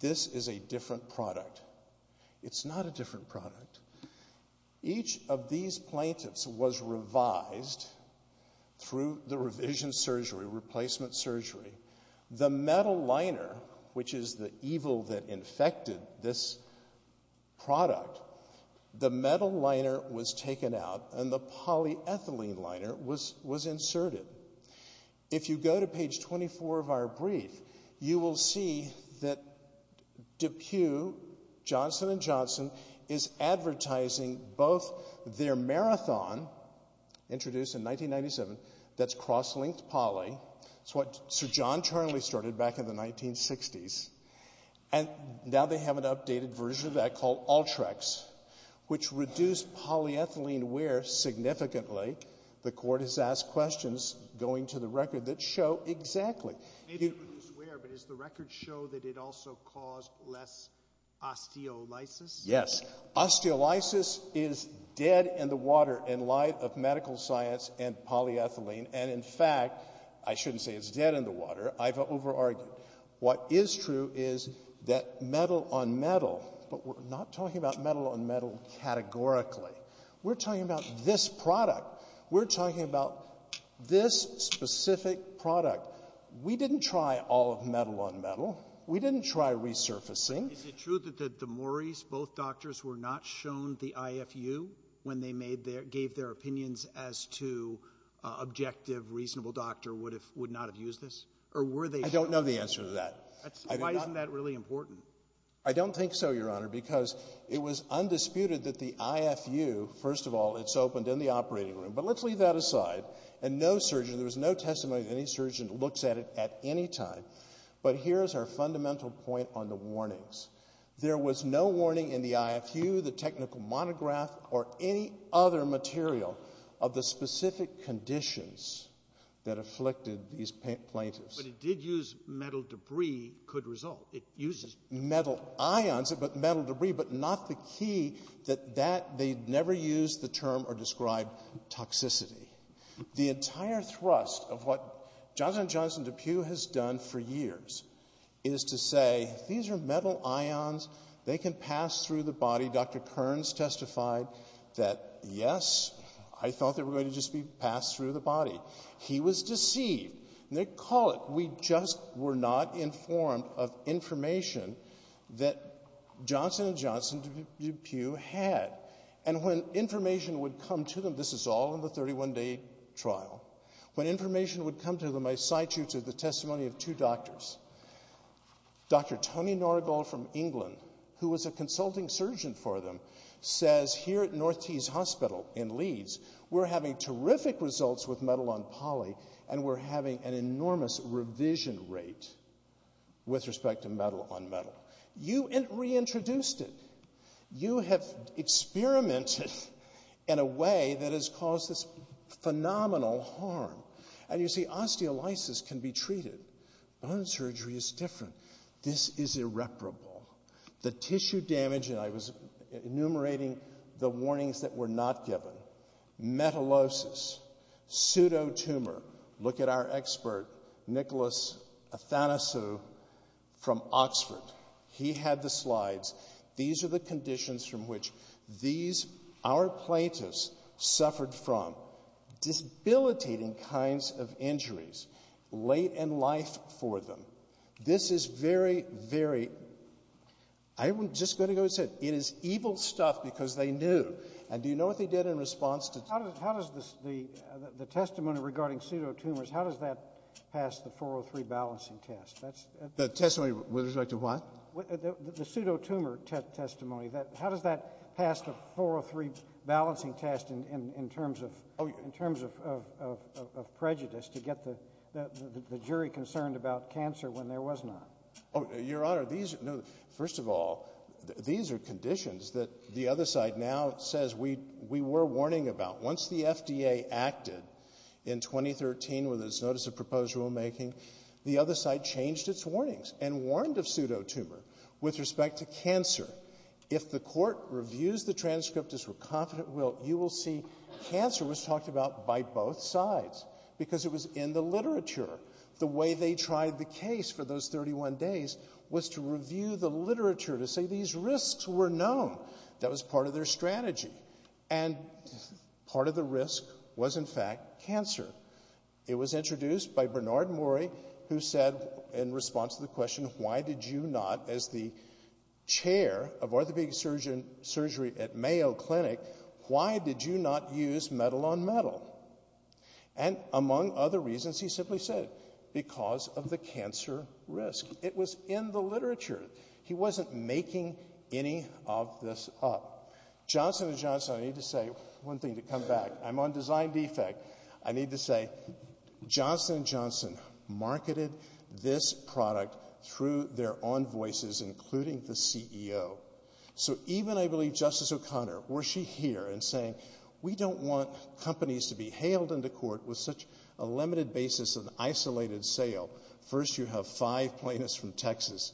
this is a different product. It's not a different product. Each of these plaintiffs was revised through the revision surgery, replacement surgery. The metal liner, which is the evil that infected this product, the metal liner was taken out and the polyethylene liner was inserted. If you go to page 24 of our brief, you will see that DePue, Johnson & Johnson, is advertising both their marathon, introduced in 1997, that's cross-linked poly. It's what Sir John Charley started back in the 1960s. And now they have an updated version of that called Ultrex, which reduced polyethylene wear significantly. The Court has asked questions, going to the record, that show exactly. Maybe it reduced wear, but does the record show that it also caused less osteolysis? Yes. Osteolysis is dead in the water in light of medical science and polyethylene, and in fact, I shouldn't say it's dead in the water, I've over-argued. What is true is that metal on metal, but we're not talking about metal on metal categorically. We're talking about this product. We're talking about this specific product. We didn't try all of metal on metal. We didn't try resurfacing. Is it true that the Maurice, both doctors, were not shown the IFU when they gave their opinions as to an objective, reasonable doctor would not have used this? I don't know the answer to that. Why isn't that really important? I don't think so, Your Honor, because it was undisputed that the IFU, first of all, it's opened in the operating room, but let's leave that aside, and no surgeon, there was no testimony that any surgeon looks at it at any time. But here's our fundamental point on the warnings. There was no warning in the IFU, the technical monograph, or any other material of the specific conditions that afflicted these plaintiffs. But it did use metal debris, could result. It uses metal ions, but metal debris, but not the key that they'd never used the term or described toxicity. The entire thrust of what Jonathan and Jonathan DePue has done for years is to say, these are metal ions, they can pass through the body. Dr. Kearns testified that, yes, I thought they were going to just be passed through the body. He was deceived. And they call it, we just were not informed of information that Jonathan and Jonathan DePue had. And when information would come to them, this is all in the 31-day trial, when information would come to them, I cite you to the testimony of two doctors. Dr. Tony Norigal from England, who was a consulting surgeon for them, says here at North Tees Hospital in Leeds, we're having terrific results with metal on poly, and we're having an enormous revision rate with respect to metal on metal. You reintroduced it. You have experimented in a way that has caused this phenomenal harm. And you see, osteolysis can be treated. Bone surgery is different. This is irreparable. The tissue damage, and I was enumerating the warnings that were not given. Metallosis, pseudotumor. Look at our expert, Nicholas Athanasou from Oxford. He had the slides. These are the conditions from which these, our plaintiffs, suffered from. Disabilitating kinds of injuries, late in life for them. This is very, very... I was just going to go and say, it is evil stuff because they knew. And do you know what they did in response to... How does the testimony regarding pseudotumors, how does that pass the 403 balancing test? The testimony with respect to what? The pseudotumor testimony. How does that pass the 403 balancing test in terms of prejudice to get the jury concerned about cancer when there was none? Your Honor, these... First of all, these are conditions that the other side now says we were warning about. Once the FDA acted in 2013 with its notice of proposed rulemaking, the other side changed its warnings and warned of pseudotumor with respect to cancer. If the Court reviews the transcript as we're confident will, you will see cancer was talked about by both sides because it was in the literature. The way they tried the case for those 31 days was to review the literature to say these risks were known. That was part of their strategy. And part of the risk was, in fact, cancer. It was introduced by Bernard Mori who said in response to the question, why did you not, as the chair of orthopedic surgery at Mayo Clinic, why did you not use metal-on-metal? And among other reasons, he simply said, because of the cancer risk. It was in the literature. He wasn't making any of this up. Johnson & Johnson, I need to say one thing to come back. I'm on design defect. I need to say Johnson & Johnson marketed this product through their own voices, including the CEO. So even, I believe, Justice O'Connor, were she here and saying, we don't want companies to be hailed into court with such a limited basis and isolated sale. First, you have five plaintiffs from Texas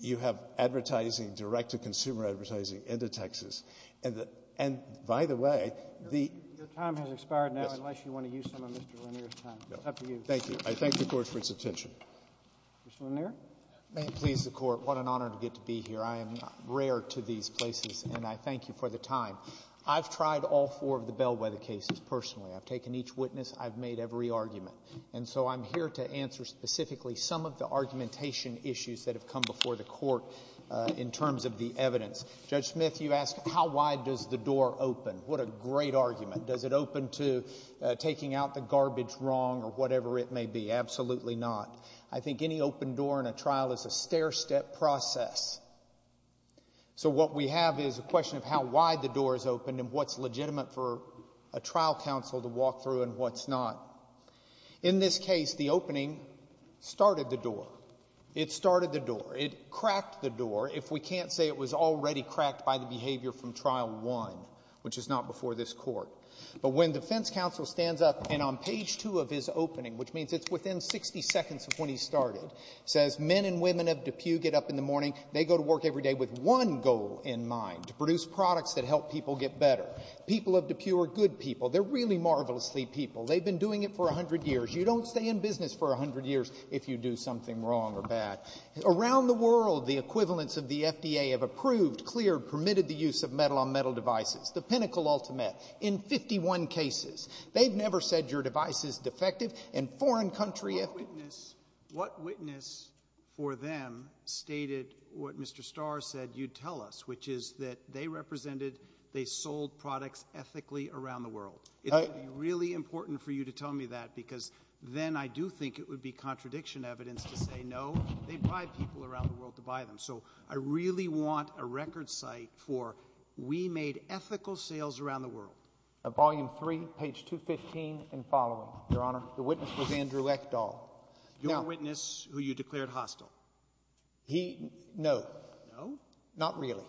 You have advertising, direct-to-consumer advertising, into Texas. And by the way, the — Your time has expired now, unless you want to use some of Mr. Lanier's time. It's up to you. Thank you. I thank the Court for its attention. Mr. Lanier? May it please the Court, what an honor to get to be here. I am rare to these places, and I thank you for the time. I've tried all four of the Bellwether cases personally. I've taken each witness. I've made every argument. And so I'm here to answer specifically some of the argumentation issues that have come before the Court in terms of the evidence. Judge Smith, you asked, how wide does the door open? What a great argument. Does it open to taking out the garbage wrong or whatever it may be? Absolutely not. I think any open door in a trial is a stair-step process. So what we have is a question of how wide the door is open and what's legitimate for a trial counsel to walk through and what's not. In this case, the opening started the door. It started the door. It cracked the door, if we can't say it was already cracked by the behavior from Trial 1, which is not before this Court. But when defense counsel stands up, and on page 2 of his opening, which means it's within 60 seconds of when he started, says men and women of DePue get up in the morning, they go to work every day with one goal in mind, to produce products that help people get better. People of DePue are good people. They're really marvelously people. They've been doing it for 100 years. You don't stay in business for 100 years if you do something wrong or bad. Around the world, the equivalents of the FDA have approved, cleared, permitted the use of metal-on-metal devices, the pinnacle ultimate in 51 cases. They've never said your device is defective. In foreign countries... What witness for them stated what Mr. Starr said you'd tell us, which is that they represented, they sold products ethically around the world? It would be really important for you to tell me that because then I do think it would be contradiction evidence to say, no, they bribe people around the world to buy them. So I really want a record site for we made ethical sales around the world. Volume 3, page 215 and following. Your Honor, the witness was Andrew Ekdahl. Your witness, who you declared hostile. He, no. No? Not really.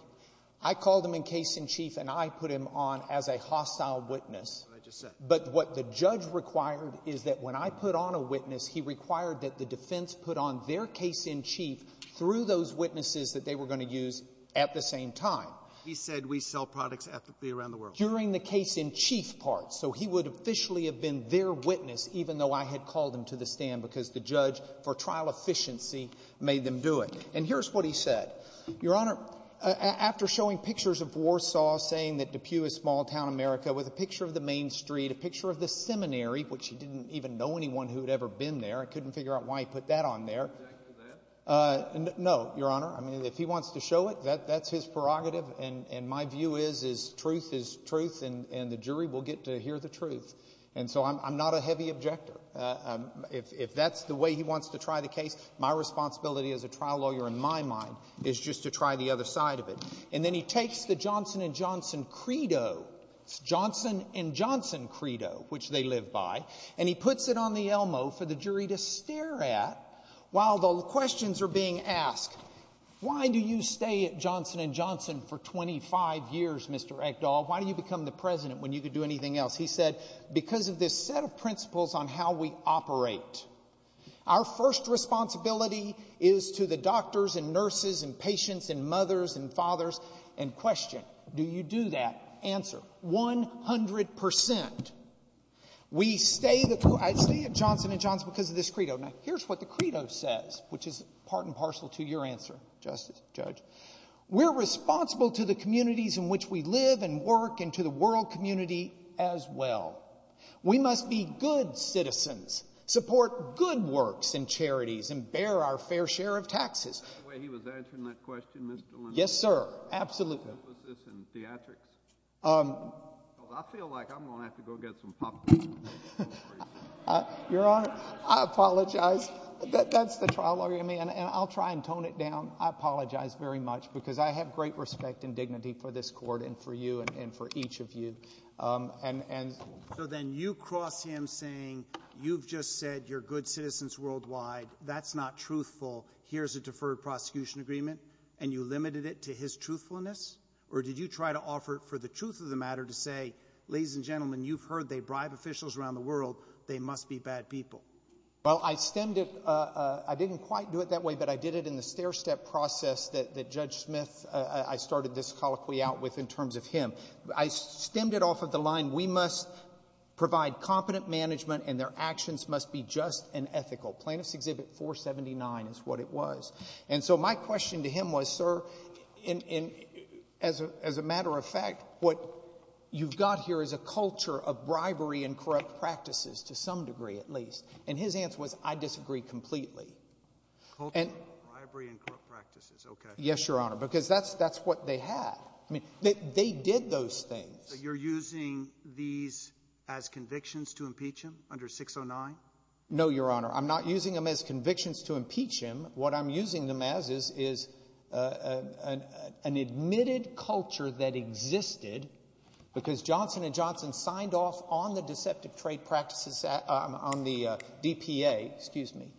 I called him in case in chief and I put him on as a hostile witness. That's what I just said. But what the judge required is that when I put on a witness, he required that the defense put on their case in chief through those witnesses that they were going to use at the same time. He said we sell products ethically around the world. During the case in chief part. So he would officially have been their witness even though I had called him to the stand because the judge for trial efficiency made them do it. And here's what he said. Your Honor, after showing pictures of Warsaw saying that Depew is small-town America with a picture of the main street, a picture of the seminary, which he didn't even know anyone who had ever been there. I couldn't figure out why he put that on there. Object to that? No, Your Honor. I mean, if he wants to show it, that's his prerogative. And my view is truth is truth and the jury will get to hear the truth. And so I'm not a heavy objector. If that's the way he wants to try the case, my responsibility as a trial lawyer in my mind is just to try the other side of it. And then he takes the Johnson & Johnson credo. It's Johnson & Johnson credo, which they live by. And he puts it on the Elmo for the jury to stare at while the questions are being asked. Why do you stay at Johnson & Johnson for 25 years, Mr. Ekdahl? Why do you become the president when you could do anything else? He said, because of this set of principles on how we operate. Our first responsibility is to the doctors and nurses and patients and mothers and fathers. And question, do you do that? Answer, 100%. We stay at Johnson & Johnson because of this credo. Now, here's what the credo says, which is part and parcel to your answer, Justice, Judge. We're responsible to the communities in which we live and work and to the world community as well. We must be good citizens, support good works and charities, and bear our fair share of taxes. Is that the way he was answering that question, Mr. Leno? Yes, sir, absolutely. What was this in theatrics? Because I feel like I'm going to have to go get some popcorn. Your Honor, I apologize. That's the trial argument, and I'll try and tone it down. I apologize very much because I have great respect and dignity for this court and for you and for each of you. So then you cross him saying, you've just said you're good citizens worldwide. That's not truthful. Here's a deferred prosecution agreement, and you limited it to his truthfulness? Or did you try to offer for the truth of the matter to say, ladies and gentlemen, you've heard they bribe officials around the world. They must be bad people. Well, I stemmed it. I didn't quite do it that way, but I did it in the stair-step process that Judge Smith, I started this colloquy out with in terms of him. I stemmed it off of the line, we must provide competent management and their actions must be just and ethical. Plaintiff's Exhibit 479 is what it was. And so my question to him was, sir, as a matter of fact, what you've got here is a culture of bribery and corrupt practices, to some degree at least. And his answer was, I disagree completely. Culture of bribery and corrupt practices, okay. Yes, Your Honor, because that's what they had. They did those things. So you're using these as convictions to impeach him under 609? No, Your Honor. I'm not using them as convictions to impeach him. What I'm using them as is an admitted culture that existed because Johnson & Johnson signed off on the Deceptive Trade Practices Act, on the DPA, excuse me,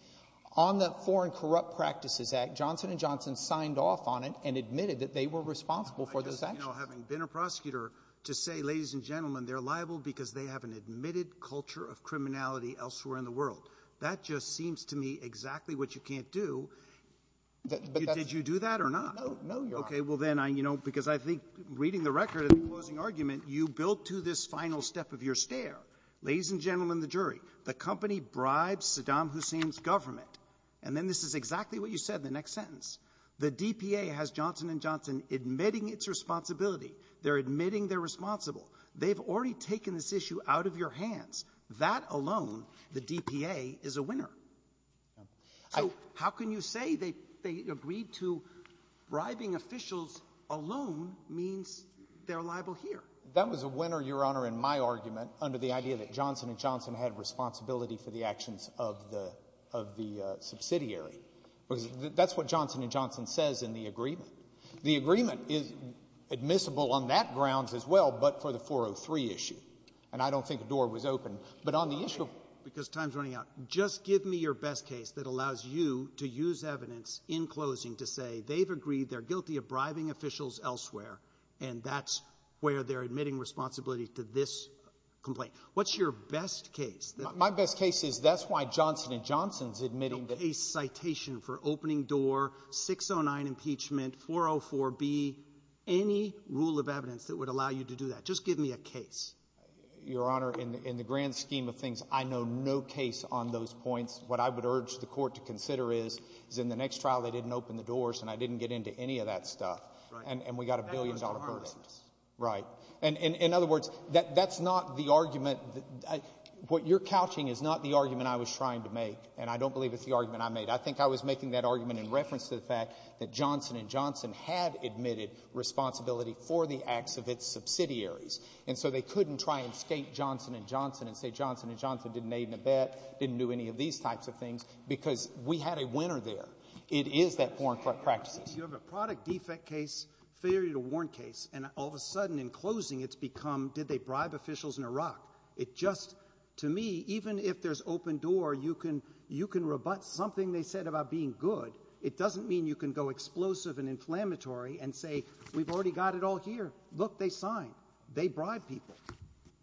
on the Foreign Corrupt Practices Act. Johnson & Johnson signed off on it and admitted that they were responsible for those actions. You know, having been a prosecutor, to say, ladies and gentlemen, they're liable because they have an admitted culture of criminality elsewhere in the world, that just seems to me exactly what you can't do. Did you do that or not? No, Your Honor. Okay. Well, then, you know, because I think reading the record of the closing argument, you built to this final step of your stare, ladies and gentlemen of the jury, the company bribes Saddam Hussein's government. And then this is exactly what you said in the next sentence. The DPA has Johnson & Johnson admitting its responsibility. They're admitting they're responsible. They've already taken this issue out of your hands. That alone, the DPA, is a winner. So how can you say they agreed to bribing officials alone means they're liable here? That was a winner, Your Honor, in my argument, under the idea that Johnson & Johnson had responsibility for the actions of the subsidiary. Because that's what Johnson & Johnson says in the agreement. The agreement is admissible on that grounds as well, but for the 403 issue. And I don't think the door was open. But on the issue, because time's running out, just give me your best case that allows you to use evidence in closing to say they've agreed, they're guilty of bribing officials elsewhere, and that's where they're admitting responsibility to this complaint. What's your best case? My best case is that's why Johnson & Johnson is admitting that— A case citation for opening door, 609 impeachment, 404B, any rule of evidence that would allow you to do that. Just give me a case. Your Honor, in the grand scheme of things, I know no case on those points. What I would urge the Court to consider is, is in the next trial they didn't open the doors and I didn't get into any of that stuff. And we got a billion-dollar verdict. Right. In other words, that's not the argument. What you're couching is not the argument I was trying to make, and I don't believe it's the argument I made. I think I was making that argument in reference to the fact that Johnson & Johnson had admitted responsibility for the acts of its subsidiaries, and so they couldn't try and skate Johnson & Johnson and say Johnson & Johnson didn't aid in a bet, didn't do any of these types of things, because we had a winner there. It is that foreign corrupt practices. You have a product defect case, failure to warrant case, and all of a sudden in closing it's become, did they bribe officials in Iraq? It just, to me, even if there's open door, you can rebut something they said about being good. It doesn't mean you can go explosive and inflammatory and say, we've already got it all here. Look, they signed. They bribed people.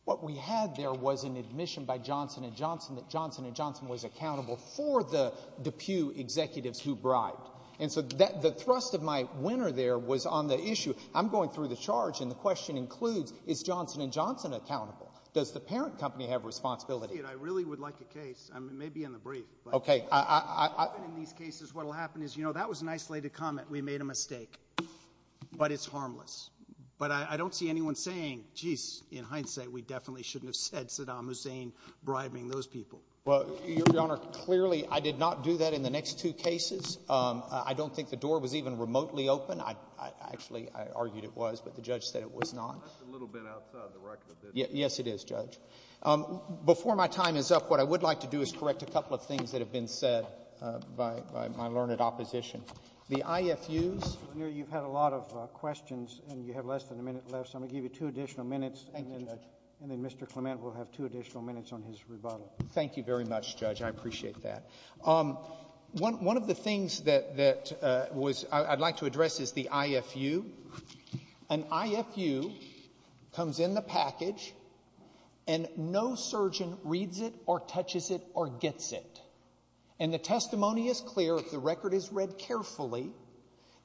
What we had there was an admission by Johnson & Johnson that Johnson & Johnson was accountable for the Pew executives who bribed. And so the thrust of my winner there was on the issue. I'm going through the charge, and the question includes, is Johnson & Johnson accountable? Does the parent company have responsibility? I really would like a case. It may be in the brief. Okay. In these cases what will happen is, you know, that was an isolated comment. We made a mistake. But it's harmless. But I don't see anyone saying, geez, in hindsight, we definitely shouldn't have said Saddam Hussein bribing those people. Well, Your Honor, clearly I did not do that in the next two cases. I don't think the door was even remotely open. Actually, I argued it was, but the judge said it was not. That's a little bit outside the record. Yes, it is, Judge. Before my time is up, what I would like to do is correct a couple of things that have been said by my learned opposition. The IFUs. Your Honor, you've had a lot of questions, and you have less than a minute left, so I'm going to give you two additional minutes. Thank you, Judge. And then Mr. Clement will have two additional minutes on his rebuttal. Thank you very much, Judge. I appreciate that. One of the things that I'd like to address is the IFU. An IFU comes in the package, and no surgeon reads it or touches it or gets it. And the testimony is clear, the record is read carefully,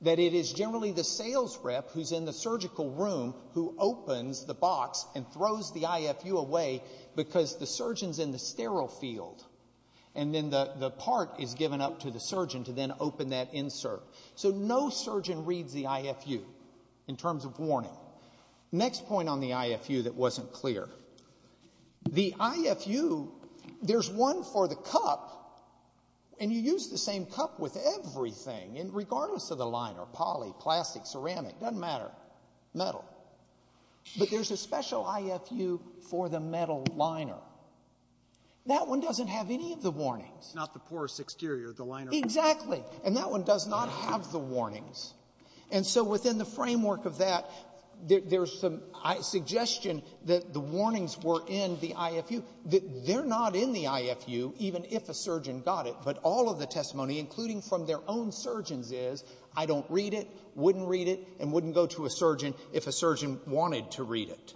that it is generally the sales rep who's in the surgical room who opens the box and throws the IFU away because the surgeon's in the sterile field, and then the part is given up to the surgeon to then open that insert. So no surgeon reads the IFU in terms of warning. Next point on the IFU that wasn't clear. The IFU, there's one for the cup, and you use the same cup with everything, and regardless of the liner, poly, plastic, ceramic, doesn't matter, metal. But there's a special IFU for the metal liner. That one doesn't have any of the warnings. Not the porous exterior of the liner. Exactly. And that one does not have the warnings. And so within the framework of that, there's some suggestion that the warnings were in the IFU. They're not in the IFU, even if a surgeon got it, but all of the testimony, including from their own surgeons, is, I don't read it, wouldn't read it, and wouldn't go to a surgeon if a surgeon wanted to read it.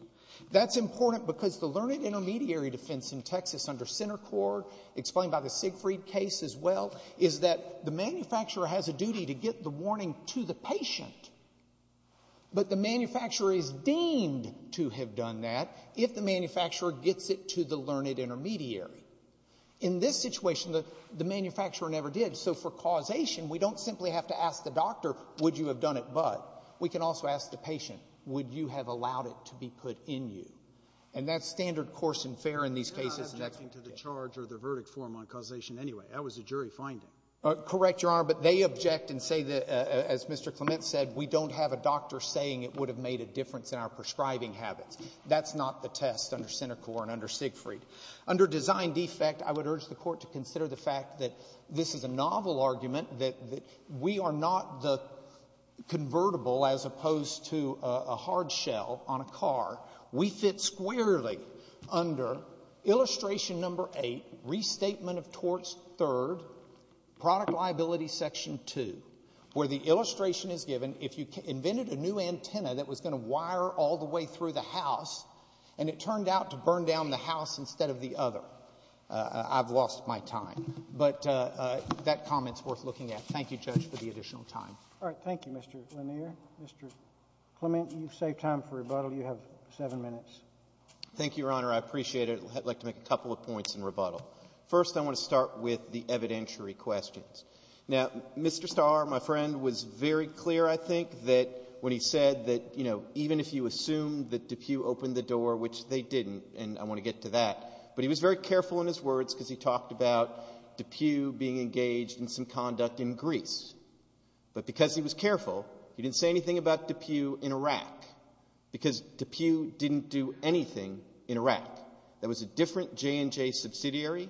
That's important because the learned intermediary defense in Texas under center court, explained by the Siegfried case as well, is that the manufacturer has a duty to get the warning to the patient, but the manufacturer is deemed to have done that if the manufacturer gets it to the learned intermediary. In this situation, the manufacturer never did. So for causation, we don't simply have to ask the doctor, would you have done it but? We can also ask the patient, would you have allowed it to be put in you? And that's standard course and fair in these cases. That was a jury finding. Correct, Your Honor. But they object and say that, as Mr. Clement said, we don't have a doctor saying it would have made a difference in our prescribing habits. That's not the test under center court and under Siegfried. Under design defect, I would urge the Court to consider the fact that this is a novel argument, that we are not the convertible as opposed to a hard shell on a car. We fit squarely under illustration number eight, restatement of torts third, product liability section two, where the illustration is given, if you invented a new antenna that was going to wire all the way through the house and it turned out to burn down the house instead of the other, I've lost my time. But that comment is worth looking at. Thank you, Judge, for the additional time. All right. Thank you, Mr. Lanier. Mr. Clement, you've saved time for rebuttal. You have seven minutes. Thank you, Your Honor. I appreciate it. I'd like to make a couple of points in rebuttal. First, I want to start with the evidentiary questions. Now, Mr. Starr, my friend, was very clear, I think, when he said that even if you assumed that DePue opened the door, which they didn't, and I want to get to that, but he was very careful in his words because he talked about DePue being engaged in some conduct in Greece. But because he was careful, he didn't say anything about DePue in Iraq because DePue didn't do anything in Iraq. That was a different J&J subsidiary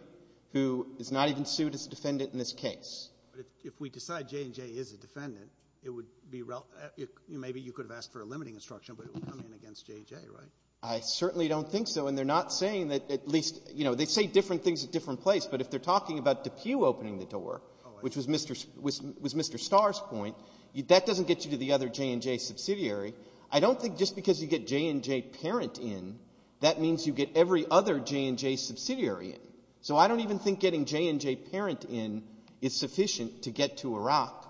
who is not even sued as a defendant in this case. But if we decide J&J is a defendant, it would be rel—maybe you could have asked for a limiting instruction, but it would come in against J&J, right? I certainly don't think so, and they're not saying that at least—you know, they say different things at different places, but if they're talking about DePue opening the door, which was Mr. Starr's point, that doesn't get you to the other J&J subsidiary. I don't think just because you get J&J parent in, that means you get every other J&J subsidiary in. So I don't even think getting J&J parent in is sufficient to get to Iraq.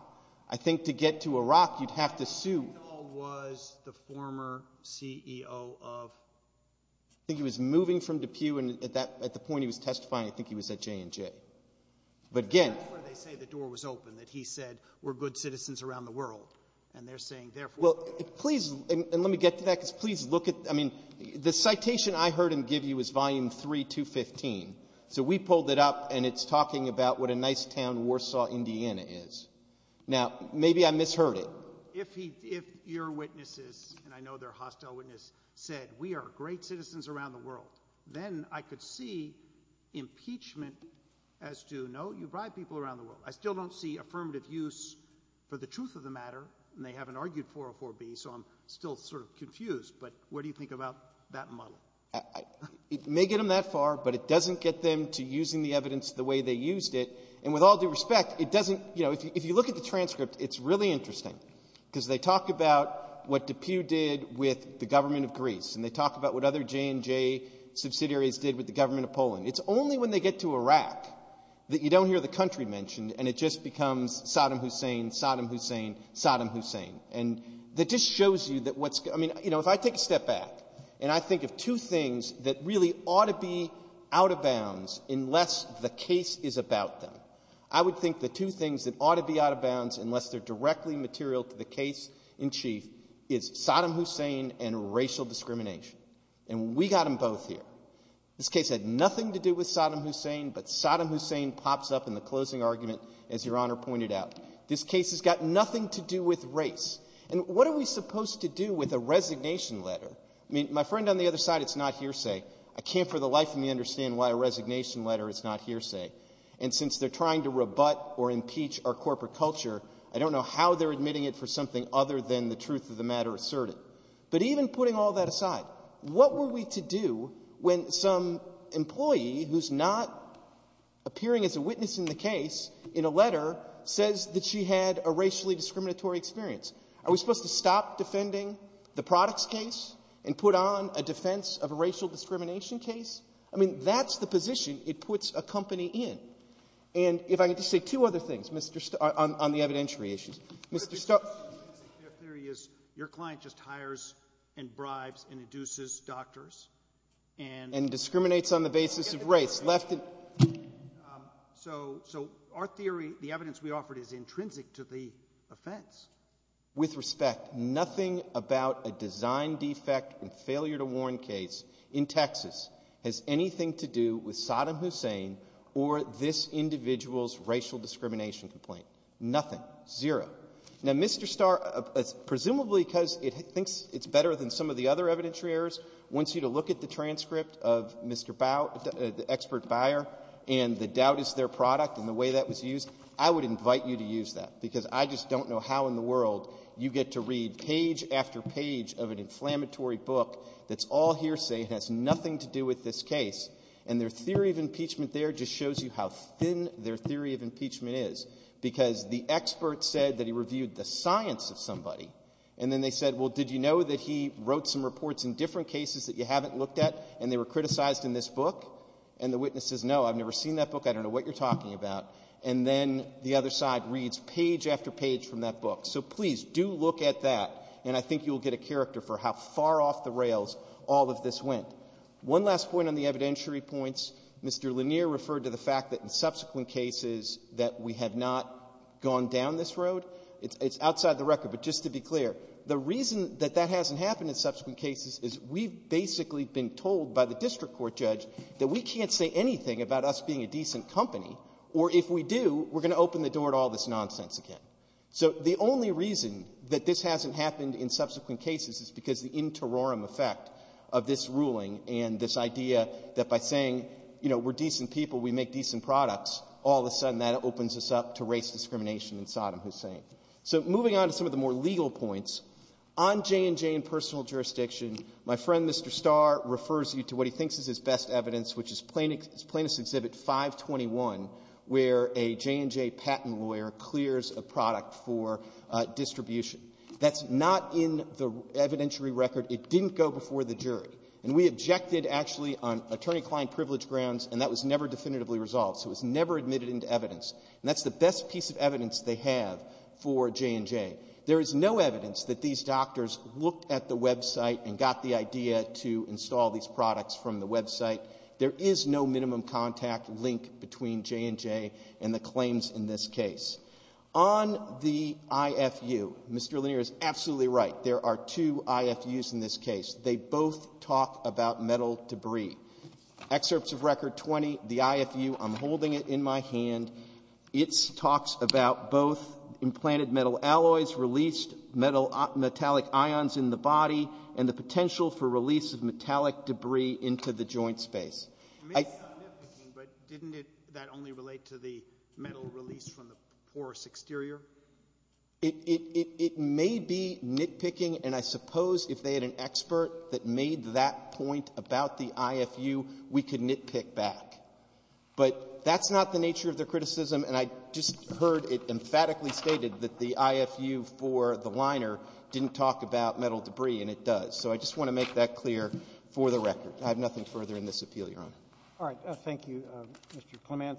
I think to get to Iraq, you'd have to sue— Who was the former CEO of— I think he was moving from DePue, and at the point he was testifying, I think he was at J&J. But again— But that's where they say the door was open, that he said, we're good citizens around the world, and they're saying therefore— Well, please—and let me get to that, because please look at—I mean, the citation I heard him give you is Volume 3, 215. So we pulled it up, and it's talking about what a nice town Warsaw, Indiana is. Now, maybe I misheard it. If your witnesses, and I know they're hostile witnesses, said, we are great citizens around the world, then I could see impeachment as to, no, you bribe people around the world. I still don't see affirmative use for the truth of the matter, and they haven't argued 404B, so I'm still sort of confused. But what do you think about that model? It may get them that far, but it doesn't get them to using the evidence the way they used it. And with all due respect, it doesn't—you know, if you look at the transcript, it's really interesting, because they talk about what DePue did with the government of Greece, and they talk about what other J&J subsidiaries did with the government of Poland. It's only when they get to Iraq that you don't hear the country mentioned, and it just becomes Saddam Hussein, Saddam Hussein, Saddam Hussein. And that just shows you that what's — I mean, you know, if I take a step back, and I think of two things that really ought to be out of bounds unless the case is about them, I would think the two things that ought to be out of bounds unless they're directly material to the case in chief is Saddam Hussein and racial discrimination. And we got them both here. This case had nothing to do with Saddam Hussein, but Saddam Hussein pops up in the closing argument, as Your Honor pointed out. This case has got nothing to do with race. And what are we supposed to do with a resignation letter? I mean, my friend on the other side, it's not hearsay. I can't for the life of me understand why a resignation letter is not hearsay. And since they're trying to rebut or impeach our corporate culture, I don't know how they're admitting it for something other than the truth of the matter asserted. But even putting all that aside, what were we to do when some employee who's not appearing as a witness in the case in a letter says that she had a racially discriminatory experience? Are we supposed to stop defending the products case and put on a defense of a racial discrimination case? I mean, that's the position it puts a company in. And if I could just say two other things, Mr. Starck, on the evidentiary issues. Mr. Starck? Your client just hires and bribes and induces doctors, and you get the point. So our theory, the evidence we offered is intrinsic to the offense. With respect, nothing about a design defect and failure to warn case in Texas has anything to do with Saddam Hussein or this individual's racial discrimination complaint. Nothing. Zero. Now, Mr. Starck, presumably because it thinks it's better than some of the other evidentiary errors, wants you to look at the transcript of Mr. Bout, the expert buyer, and the doubt is their product and the way that was used, I would invite you to use that, because I just don't know how in the world you get to read page after page of an inflammatory book that's all hearsay and has nothing to do with this case, and their theory of impeachment there just shows you how thin their theory of impeachment is. Because the expert said that he reviewed the science of somebody, and then they said, well, did you know that he wrote some reports in different cases that you haven't looked at, and they were criticized in this book? And the witness says, no, I've never seen that book. I don't know what you're talking about. And then the other side reads page after page from that book. So please do look at that, and I think you'll get a character for how far off the rails all of this went. One last point on the evidentiary points. Mr. Lanier referred to the fact that in subsequent cases that we have not gone down this road. It's outside the record. But just to be clear, the reason that that hasn't happened in subsequent cases is we've basically been told by the district court judge that we can't say anything about us being a decent company, or if we do, we're going to open the door to all this nonsense again. So the only reason that this hasn't happened in subsequent cases is because the interorum effect of this ruling and this idea that by saying, you know, we're decent people, we make decent products, all of a sudden that opens us up to race discrimination in Saddam Hussein. So moving on to some of the more legal points, on J&J and personal jurisdiction, my friend, Mr. Starr, refers you to what he thinks is his best evidence, which is Plaintiff's Exhibit 521, where a J&J patent lawyer clears a product for distribution. That's not in the evidentiary record. It didn't go before the jury. And we objected, actually, on attorney-client privilege grounds, and that was never definitively resolved. So it was never admitted into evidence. And that's the best piece of evidence they have for J&J. There is no evidence that these doctors looked at the website and got the idea to install these products from the website. There is no minimum contact link between J&J and the claims in this case. On the IFU, Mr. Lanier is absolutely right. There are two IFUs in this case. They both talk about metal debris. Excerpts of Record 20, the IFU, I'm holding it in my hand. It talks about both implanted metal alloys released, metallic ions in the body, and the potential for release of metallic debris into the joint space. It may be nitpicking, but didn't that only relate to the metal released from the porous exterior? It may be nitpicking, and I suppose if they had an expert that made that point about the IFU, we could nitpick back. But that's not the nature of their criticism, and I just heard it emphatically stated that the IFU for the liner didn't talk about metal debris, and it does. So I just want to make that clear for the record. I have nothing further in this appeal, Your Honor. Thank you.